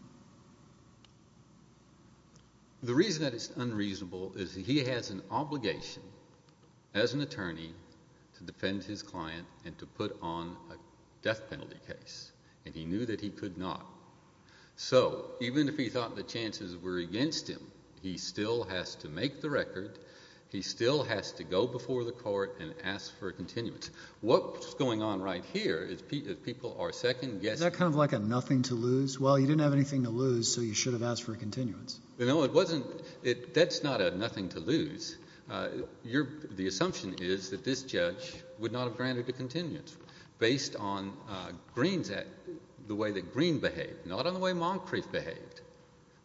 The reason that it's unreasonable is he has an obligation as an attorney to defend his client and to put on a death penalty case, and he knew that he could not. So even if he thought the chances were against him, he still has to make the record. He still has to go before the court and ask for a continuance. What's going on right here is people are second guessing. Is that kind of like a nothing to lose? Well, you didn't have anything to lose, so you should have asked for a continuance. No, it wasn't. That's not a nothing to lose. The assumption is that this judge would not have granted the continuance based on Greene's act, the way that Greene behaved, not on the way Moncrief behaved,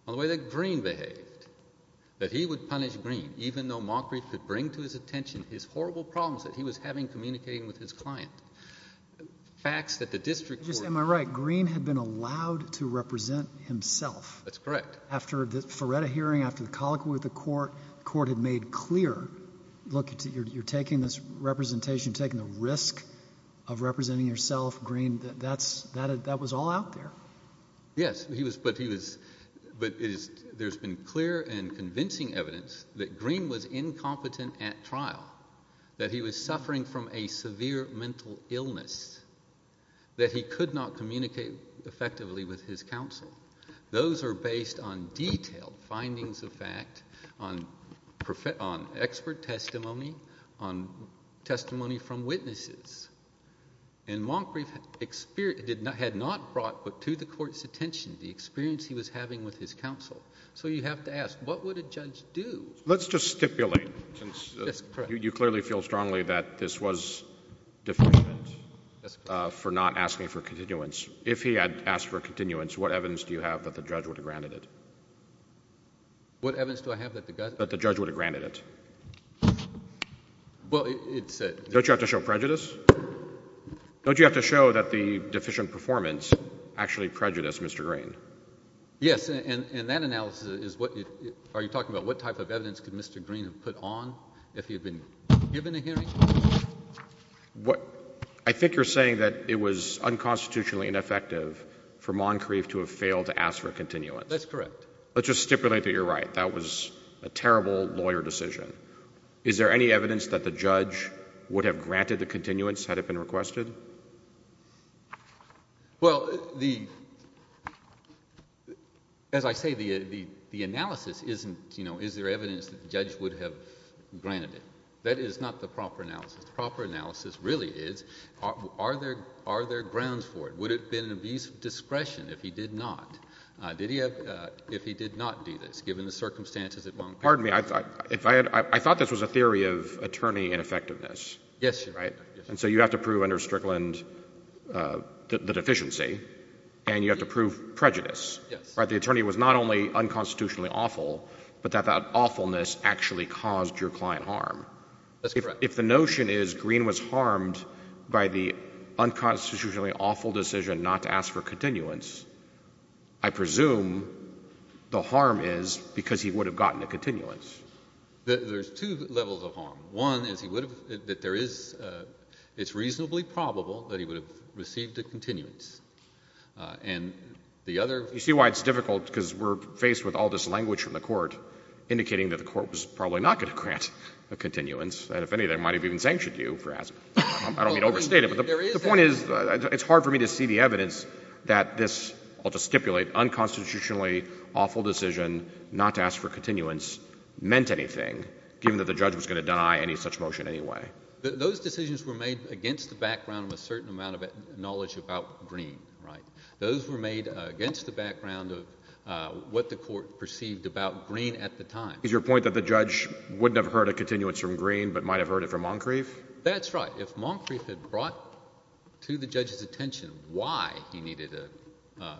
on the way that Greene behaved, that he would punish Greene, even though Moncrief could bring to his attention his horrible problems that he was having communicating with his client. Facts that the district court— Am I right? Greene had been allowed to represent himself. That's correct. After the Ferretta hearing, after the colloquy with the court, the court had made clear, look, you're taking this representation, you're taking the risk of representing yourself, Greene. That was all out there. Yes, but there's been clear and convincing evidence that Greene was incompetent at trial, that he was suffering from a severe mental illness, that he could not communicate effectively with his counsel. Those are based on detailed findings of fact, on expert testimony, on testimony from witnesses, and Moncrief had not brought to the court's attention the experience he was having with his counsel. So you have to ask, what would a judge do? Let's just stipulate, since you clearly feel strongly that this was defendant for not asking for continuance. If he had asked for continuance, what evidence do you have that the judge would have granted it? What evidence do I have that the judge would have granted it? Well, it's— Don't you have to show prejudice? Don't you have to show that the deficient performance actually prejudiced Mr. Greene? Yes, and that analysis is what—are you talking about what type of evidence could Mr. Greene have put on if he had been given a hearing? I think you're saying that it was unconstitutionally ineffective for Moncrief to have failed to ask for continuance. That's correct. Let's just stipulate that you're right. That was a terrible lawyer decision. Is there any evidence that the judge would have granted the continuance had it been requested? Well, the—as I say, the analysis isn't, you know, is there evidence that the judge would have granted it? That is not the proper analysis. The proper analysis really is, are there grounds for it? Would it have been an abuse of discretion if he did not? Did he have—if he did not do this, given the circumstances at Moncrief? Pardon me. I thought this was a theory of attorney ineffectiveness. Yes, Your Honor. Right? And so you have to prove under Strickland the deficiency, and you have to prove prejudice. Yes. Right? The attorney was not only unconstitutionally awful, but that that awfulness actually caused your client harm. That's correct. If the notion is Green was harmed by the unconstitutionally awful decision not to ask for continuance, I presume the harm is because he would have gotten a continuance. There's two levels of harm. One is he would have—that there is—it's reasonably probable that he would have received a continuance. And the other— You see why it's difficult? Because we're faced with all this language from the Court indicating that the Court was probably not going to grant a continuance, and if any, they might have even sanctioned you for asking. I don't mean to overstate it, but the point is it's hard for me to see the evidence that this, I'll just stipulate, unconstitutionally awful decision not to ask for continuance meant anything, given that the judge was going to deny any such motion anyway. Those decisions were made against the background of a certain amount of knowledge about Green, right? Those were made against the background of what the Court perceived about Green at the time. Is your point that the judge wouldn't have heard a continuance from Green but might have heard it from Moncrief? That's right. If Moncrief had brought to the judge's attention why he needed a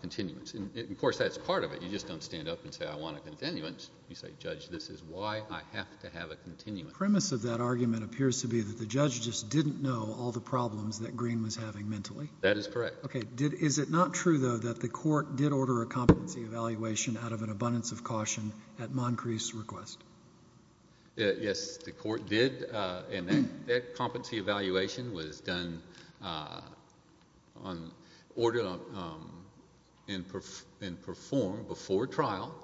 continuance—and, of course, that's part of it. You just don't stand up and say, I want a continuance. You say, Judge, this is why I have to have a continuance. The premise of that argument appears to be that the judge just didn't know all the problems that Green was having mentally. That is correct. Okay. Is it not true, though, that the Court did order a competency evaluation out of an at Moncrief's request? Yes, the Court did, and that competency evaluation was done on—ordered and performed before trial,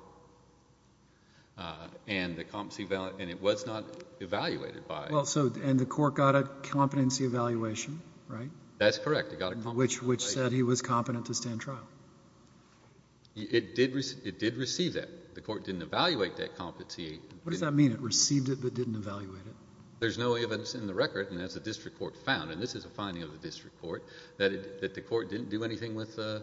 and the competency—and it was not evaluated by— Well, so—and the Court got a competency evaluation, right? That's correct. It got a competency evaluation. Which said he was competent to stand trial. It did receive that. The Court didn't evaluate that competency. What does that mean? It received it but didn't evaluate it? There's no evidence in the record, and as the District Court found—and this is a finding of the District Court—that the Court didn't do anything with the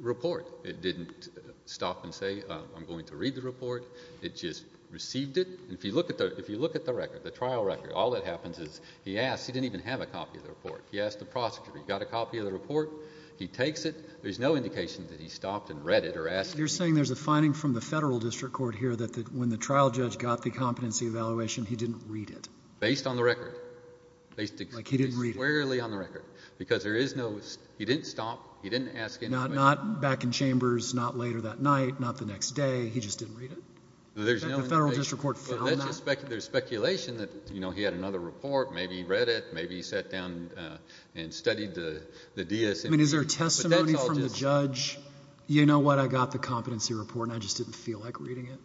report. It didn't stop and say, I'm going to read the report. It just received it. And if you look at the record, the trial record, all that happens is he asked—he didn't even have a copy of the report. He asked the prosecutor, he got a copy of the report, he takes it, there's no indication that he stopped and read it or asked— You're saying there's a finding from the Federal District Court here that when the trial judge got the competency evaluation, he didn't read it? Based on the record. Like he didn't read it? Based squarely on the record, because there is no—he didn't stop, he didn't ask anybody— Not back in chambers, not later that night, not the next day, he just didn't read it? No, there's no— The Federal District Court found that? There's speculation that, you know, he had another report, maybe he read it, maybe he sat down and studied the DSMV— I mean, is there testimony from the judge, you know what, I got the competency report and I just didn't feel like reading it?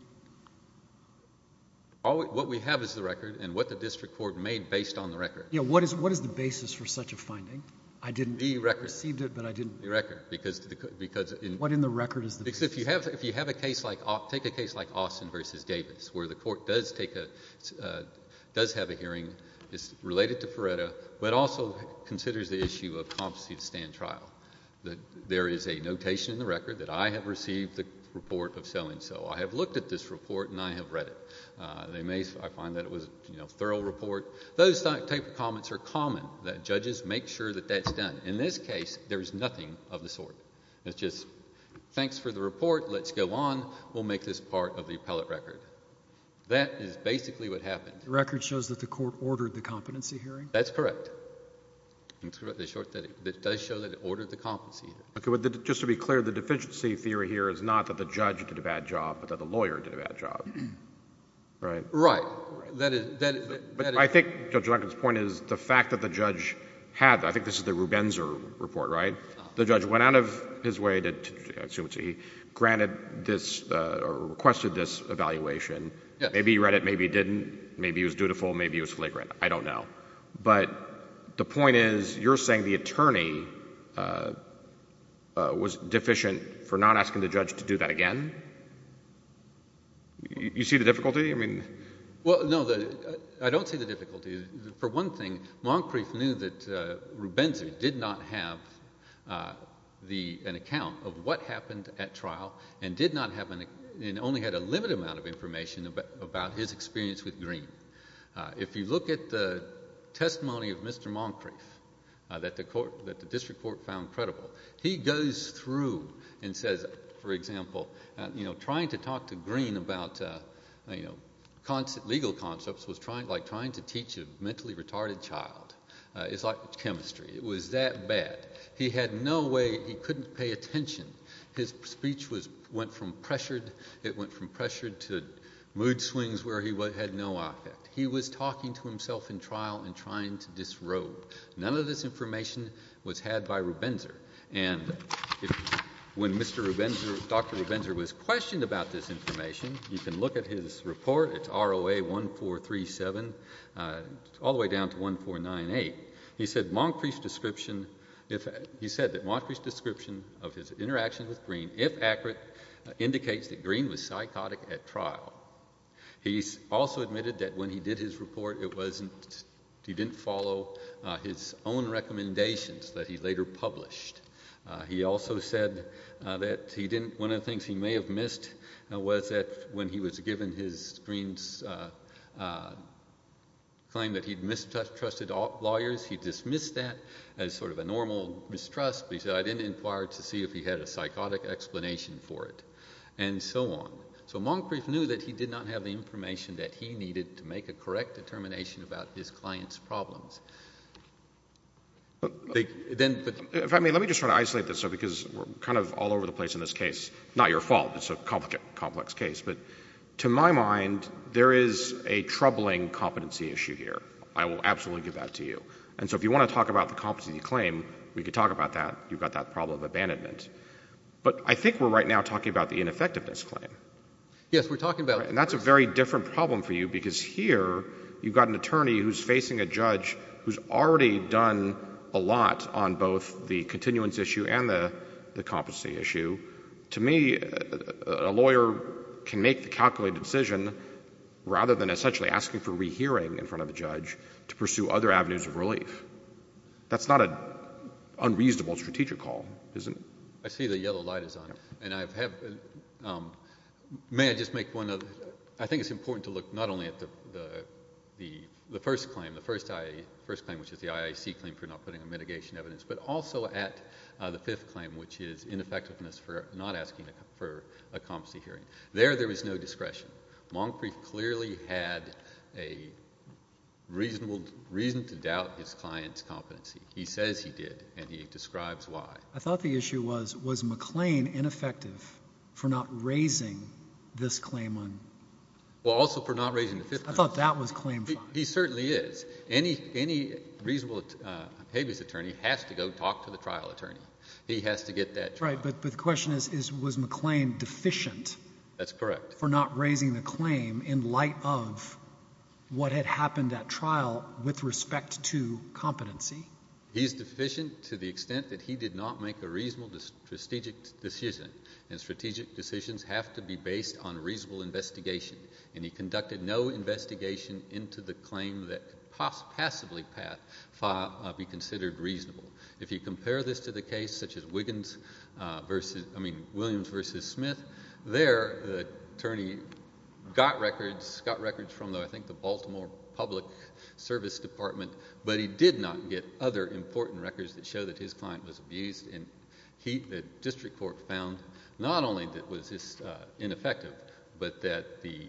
What we have is the record and what the District Court made based on the record. Yeah, what is the basis for such a finding? I didn't— The record. Received it, but I didn't— The record, because— What in the record is the— Because if you have a case like—take a case like Austin v. Davis, where the court does take a—does have a hearing, it's related to Feretta, but also considers the issue of competency to stand trial. There is a notation in the record that I have received the report of so-and-so. I have looked at this report and I have read it. I find that it was, you know, a thorough report. Those type of comments are common, that judges make sure that that's done. In this case, there's nothing of the sort. It's just, thanks for the report, let's go on, we'll make this part of the appellate record. That is basically what happened. The record shows that the court ordered the competency hearing? That's correct. It does show that it ordered the competency hearing. Okay, but just to be clear, the deficiency theory here is not that the judge did a bad job, but that the lawyer did a bad job, right? Right. I think Judge Duncan's point is the fact that the judge had—I think this is the Rubenzer report, right? The judge went out of his way to—I assume it's he granted this or requested this evaluation. Maybe he read it, maybe he didn't. Maybe he was dutiful, maybe he was flagrant. I don't know. But the point is, you're saying the attorney was deficient for not asking the judge to do that again? You see the difficulty? Well, no, I don't see the difficulty. For one thing, Moncrief knew that Rubenzer did not have an account of what happened at the time, so he had a limited amount of information about his experience with Greene. If you look at the testimony of Mr. Moncrief that the district court found credible, he goes through and says, for example, trying to talk to Greene about legal concepts was like trying to teach a mentally retarded child. It's like chemistry. It was that bad. He had no way—he couldn't pay attention. His speech went from pressured. It went from pressured to mood swings where he had no affect. He was talking to himself in trial and trying to disrobe. None of this information was had by Rubenzer. And when Dr. Rubenzer was questioned about this information, you can look at his report. It's ROA 1437, all the way down to 1498. He said that Moncrief's description of his interaction with Greene, if accurate, indicates that Greene was psychotic at trial. He also admitted that when he did his report, it wasn't—he didn't follow his own recommendations that he later published. He also said that he didn't—one of the things he may have missed was that when he was given Greene's claim that he'd mistrusted lawyers, he dismissed that as sort of a normal mistrust, but he said, I didn't inquire to see if he had a psychotic explanation for it. And so on. So Moncrief knew that he did not have the information that he needed to make a correct determination about his client's problems. They—then— If I may, let me just sort of isolate this, though, because we're kind of all over the place in this case. Not your fault. It's a complex case. But to my mind, there is a troubling competency issue here. I will absolutely give that to you. And so if you want to talk about the competency of the claim, we could talk about that. You've got that problem of abandonment. But I think we're right now talking about the ineffectiveness claim. Yes, we're talking about— And that's a very different problem for you because here, you've got an attorney who's facing a judge who's already done a lot on both the continuance issue and the competency issue. To me, a lawyer can make the calculated decision rather than essentially asking for rehearing in front of the judge to pursue other avenues of relief. That's not an unreasonable strategic call, is it? I see the yellow light is on. And may I just make one other—I think it's important to look not only at the first claim, the first claim, which is the IAC claim for not putting a mitigation evidence, but also at the fifth claim, which is ineffectiveness for not asking for a competency hearing. There, there is no discretion. Moncrief clearly had a reason to doubt his client's competency. He says he did, and he describes why. I thought the issue was, was McLean ineffective for not raising this claim on— Well, also for not raising the fifth claim. I thought that was claim five. He certainly is. Any reasonable habeas attorney has to go talk to the trial attorney. He has to get that— Right, but the question is, was McLean deficient— That's correct. —for not raising the claim in light of what had happened at trial with respect to competency? He's deficient to the extent that he did not make a reasonable strategic decision, and strategic decisions have to be based on reasonable investigation. And he conducted no investigation into the claim that could passively be considered reasonable. If you compare this to the case such as Williams v. Smith, there the attorney got records, got records from, I think, the Baltimore Public Service Department, but he did not get other important records that show that his client was abused. And the district court found not only that it was ineffective, but that the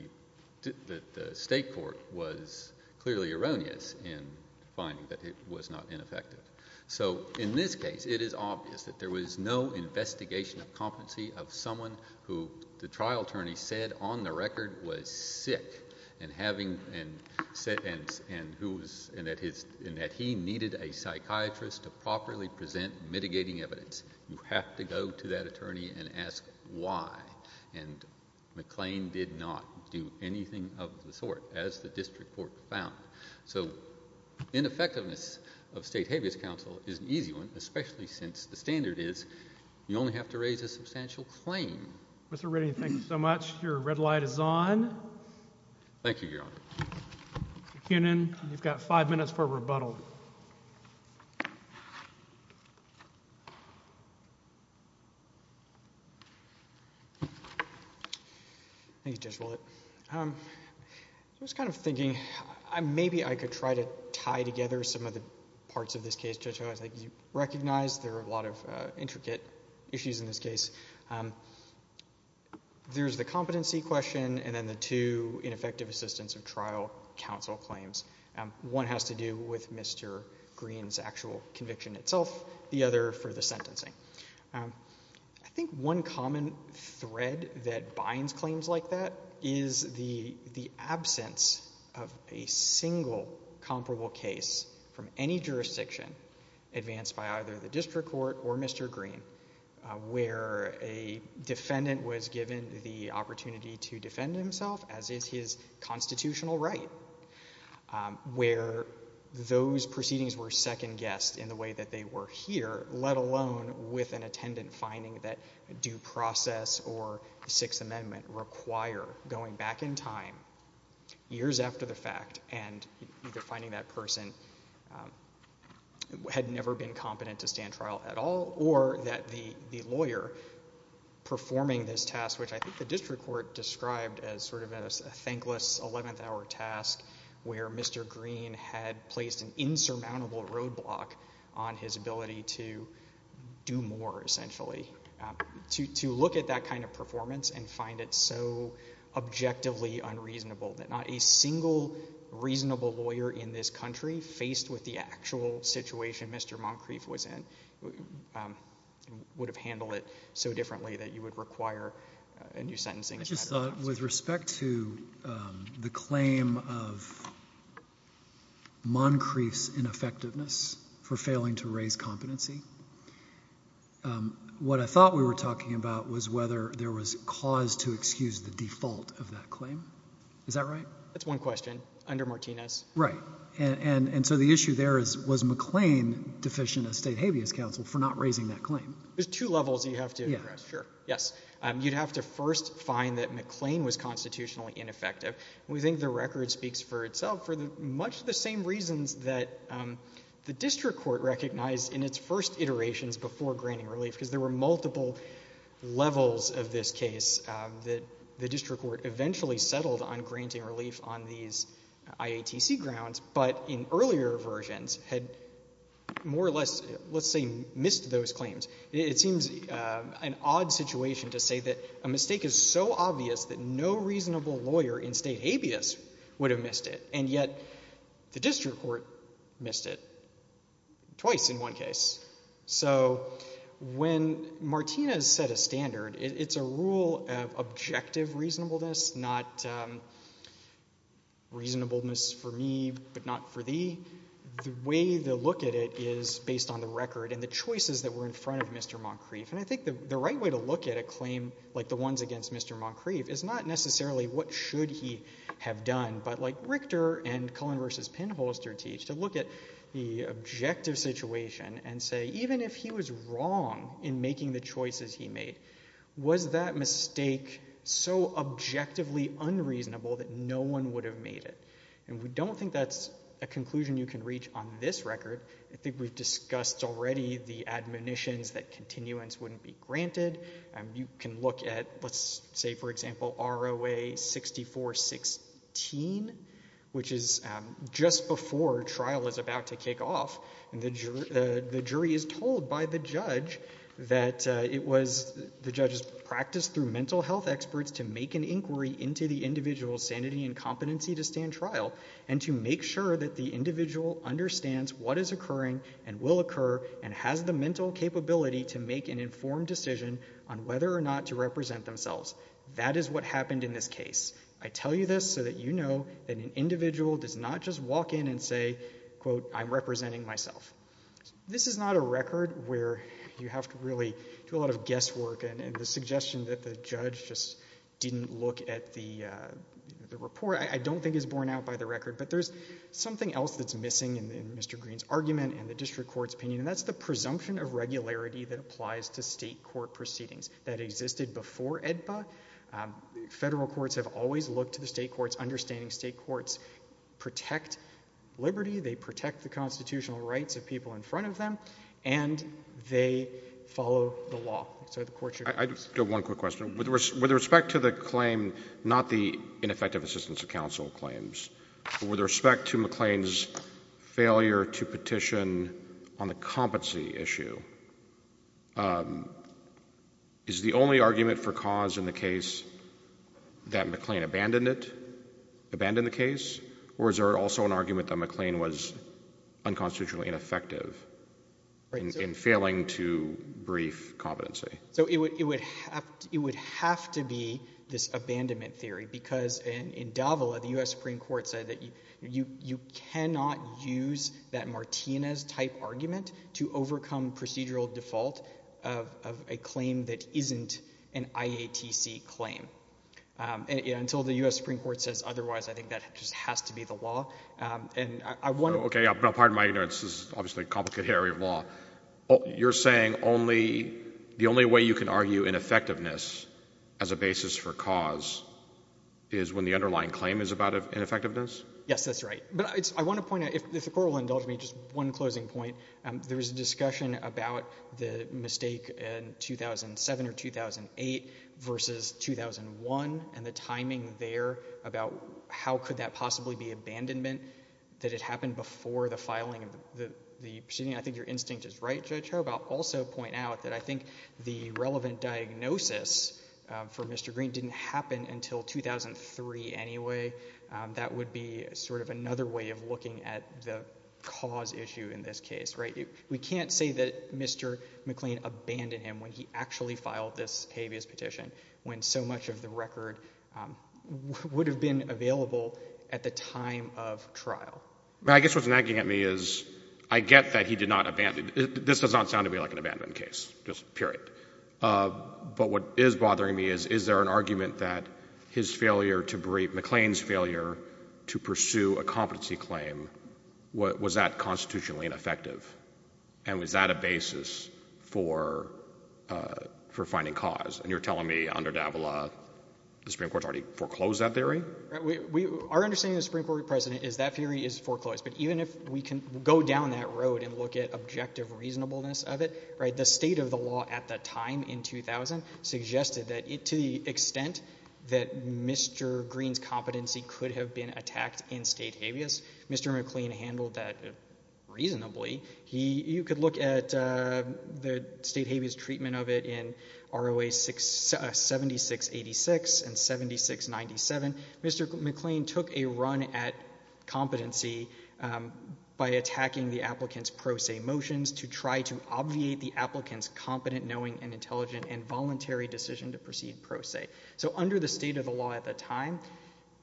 state court was clearly erroneous in finding that it was not ineffective. So in this case, it is obvious that there was no investigation of competency of someone who the trial attorney said on the record was sick and that he needed a psychiatrist to properly present mitigating evidence. You have to go to that attorney and ask why, and McLean did not do anything of the sort as the district court found. So ineffectiveness of state habeas counsel is an easy one, especially since the standard is you only have to raise a substantial claim. Mr. Redding, thank you so much. Your red light is on. Thank you, Your Honor. Mr. Koonin, you've got five minutes for a rebuttal. Thank you, Judge Willett. I was kind of thinking, maybe I could try to tie together some of the parts of this case. I think you recognize there are a lot of intricate issues in this case. There's the competency question and then the two ineffective assistance of trial counsel claims. One has to do with Mr. Green's actual conviction itself, the other for the sentencing. I think one common thread that binds claims like that is the absence of a single comparable case from any jurisdiction advanced by either the district court or Mr. Green where a defendant was given the opportunity to defend himself as is his constitutional right, where those proceedings were second guessed in the way that they were here, let alone with an attendant finding that due process or the Sixth Amendment require going back in time years after the person had never been competent to stand trial at all, or that the lawyer performing this task, which I think the district court described as sort of a thankless 11th hour task where Mr. Green had placed an insurmountable roadblock on his ability to do more, essentially, to look at that kind of performance and find it so objectively unreasonable that not a single reasonable lawyer in this country, faced with the actual situation Mr. Moncrief was in, would have handled it so differently that you would require a new sentencing. I just thought with respect to the claim of Moncrief's ineffectiveness for failing to raise competency, what I thought we were talking about was whether there was cause to excuse the default of that claim. Is that right? That's one question. Under Martinez. Right. And so the issue there is, was McLean deficient as state habeas counsel for not raising that claim? There's two levels you have to address, sure. Yes. You'd have to first find that McLean was constitutionally ineffective. We think the record speaks for itself for much the same reasons that the district court recognized in its first iterations before granting relief, because there were multiple levels of this case that the district court eventually settled on granting relief on these IATC grounds, but in earlier versions had more or less, let's say, missed those claims. It seems an odd situation to say that a mistake is so obvious that no reasonable lawyer in state habeas would have missed it, and yet the district court missed it. Twice in one case. So when Martinez set a standard, it's a rule of objective reasonableness, not reasonableness for me, but not for thee. The way they look at it is based on the record and the choices that were in front of Mr. Moncrief. And I think the right way to look at a claim like the ones against Mr. Moncrief is not necessarily what should he have done, but like Richter and Cullen v. Penholster teach, to look at the objective situation and say, even if he was wrong in making the choices he made, was that mistake so objectively unreasonable that no one would have made it? And we don't think that's a conclusion you can reach on this record. I think we've discussed already the admonitions that continuance wouldn't be granted. You can look at, let's say, for example, ROA 6416, which is just before trial is about to kick off, and the jury is told by the judge that it was the judge's practice through mental health experts to make an inquiry into the individual's sanity and competency to stand trial and to make sure that the individual understands what is occurring and will occur and has the mental capability to make an informed decision on whether or not to represent themselves. That is what happened in this case. I tell you this so that you know that an individual does not just walk in and say, quote, I'm representing myself. This is not a record where you have to really do a lot of guesswork. And the suggestion that the judge just didn't look at the report, I don't think is borne out by the record. But there's something else that's missing in Mr. Green's argument and the district court's opinion, and that's the presumption of regularity that applies to state court proceedings that existed before AEDPA. Federal courts have always looked to the state courts, understanding state courts protect liberty, they protect the constitutional rights of people in front of them, and they follow the law. So the court should— I just have one quick question. With respect to the claim, not the ineffective assistance of counsel claims, but with respect to McLean's failure to petition on the competency issue, is the only argument for cause in the case that McLean abandoned it, abandoned the case, or is there also an argument that McLean was unconstitutionally ineffective in failing to brief competency? So it would have to be this abandonment theory, because in Davila, the U.S. Supreme Court said that you cannot use that Martinez-type argument to overcome procedural default of a claim that isn't an IATC claim. Until the U.S. Supreme Court says otherwise, I think that just has to be the law. And I want— Okay, pardon my ignorance. This is obviously a complicated area of law. You're saying the only way you can argue ineffectiveness as a basis for cause is when the Yes, that's right. But I want to point out, if the Court will indulge me, just one closing point. There was a discussion about the mistake in 2007 or 2008 versus 2001 and the timing there about how could that possibly be abandonment, that it happened before the filing of the proceeding. I think your instinct is right, Judge Hobart. Also point out that I think the relevant diagnosis for Mr. Green didn't happen until 2003 anyway. That would be sort of another way of looking at the cause issue in this case, right? We can't say that Mr. McLean abandoned him when he actually filed this habeas petition when so much of the record would have been available at the time of trial. I guess what's nagging at me is I get that he did not abandon—this does not sound to me like an abandonment case, just period. But what is bothering me is, is there an argument that his failure to—McLean's failure to pursue a competency claim, was that constitutionally ineffective? And was that a basis for finding cause? And you're telling me under Davila the Supreme Court's already foreclosed that theory? Our understanding of the Supreme Court president is that theory is foreclosed. But even if we can go down that road and look at objective reasonableness of it, right, the state of the law at that time in 2000 suggested that to the extent that Mr. Green's competency could have been attacked in state habeas, Mr. McLean handled that reasonably. You could look at the state habeas treatment of it in ROA 7686 and 7697. Mr. McLean took a run at competency by attacking the applicant's pro se motions to try to make an applicant's competent, knowing, and intelligent and voluntary decision to proceed pro se. So under the state of the law at the time,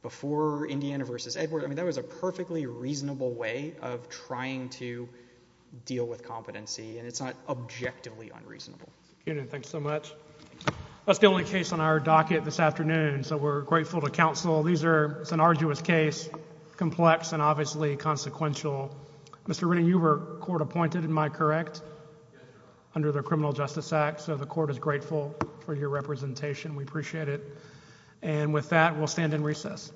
before Indiana v. Edward, I mean, that was a perfectly reasonable way of trying to deal with competency. And it's not objectively unreasonable. Thank you so much. That's the only case on our docket this afternoon. So we're grateful to counsel. These are—it's an arduous case, complex, and obviously consequential. Mr. Redding, you were court appointed, am I correct? Under the Criminal Justice Act. So the court is grateful for your representation. We appreciate it. And with that, we'll stand in recess.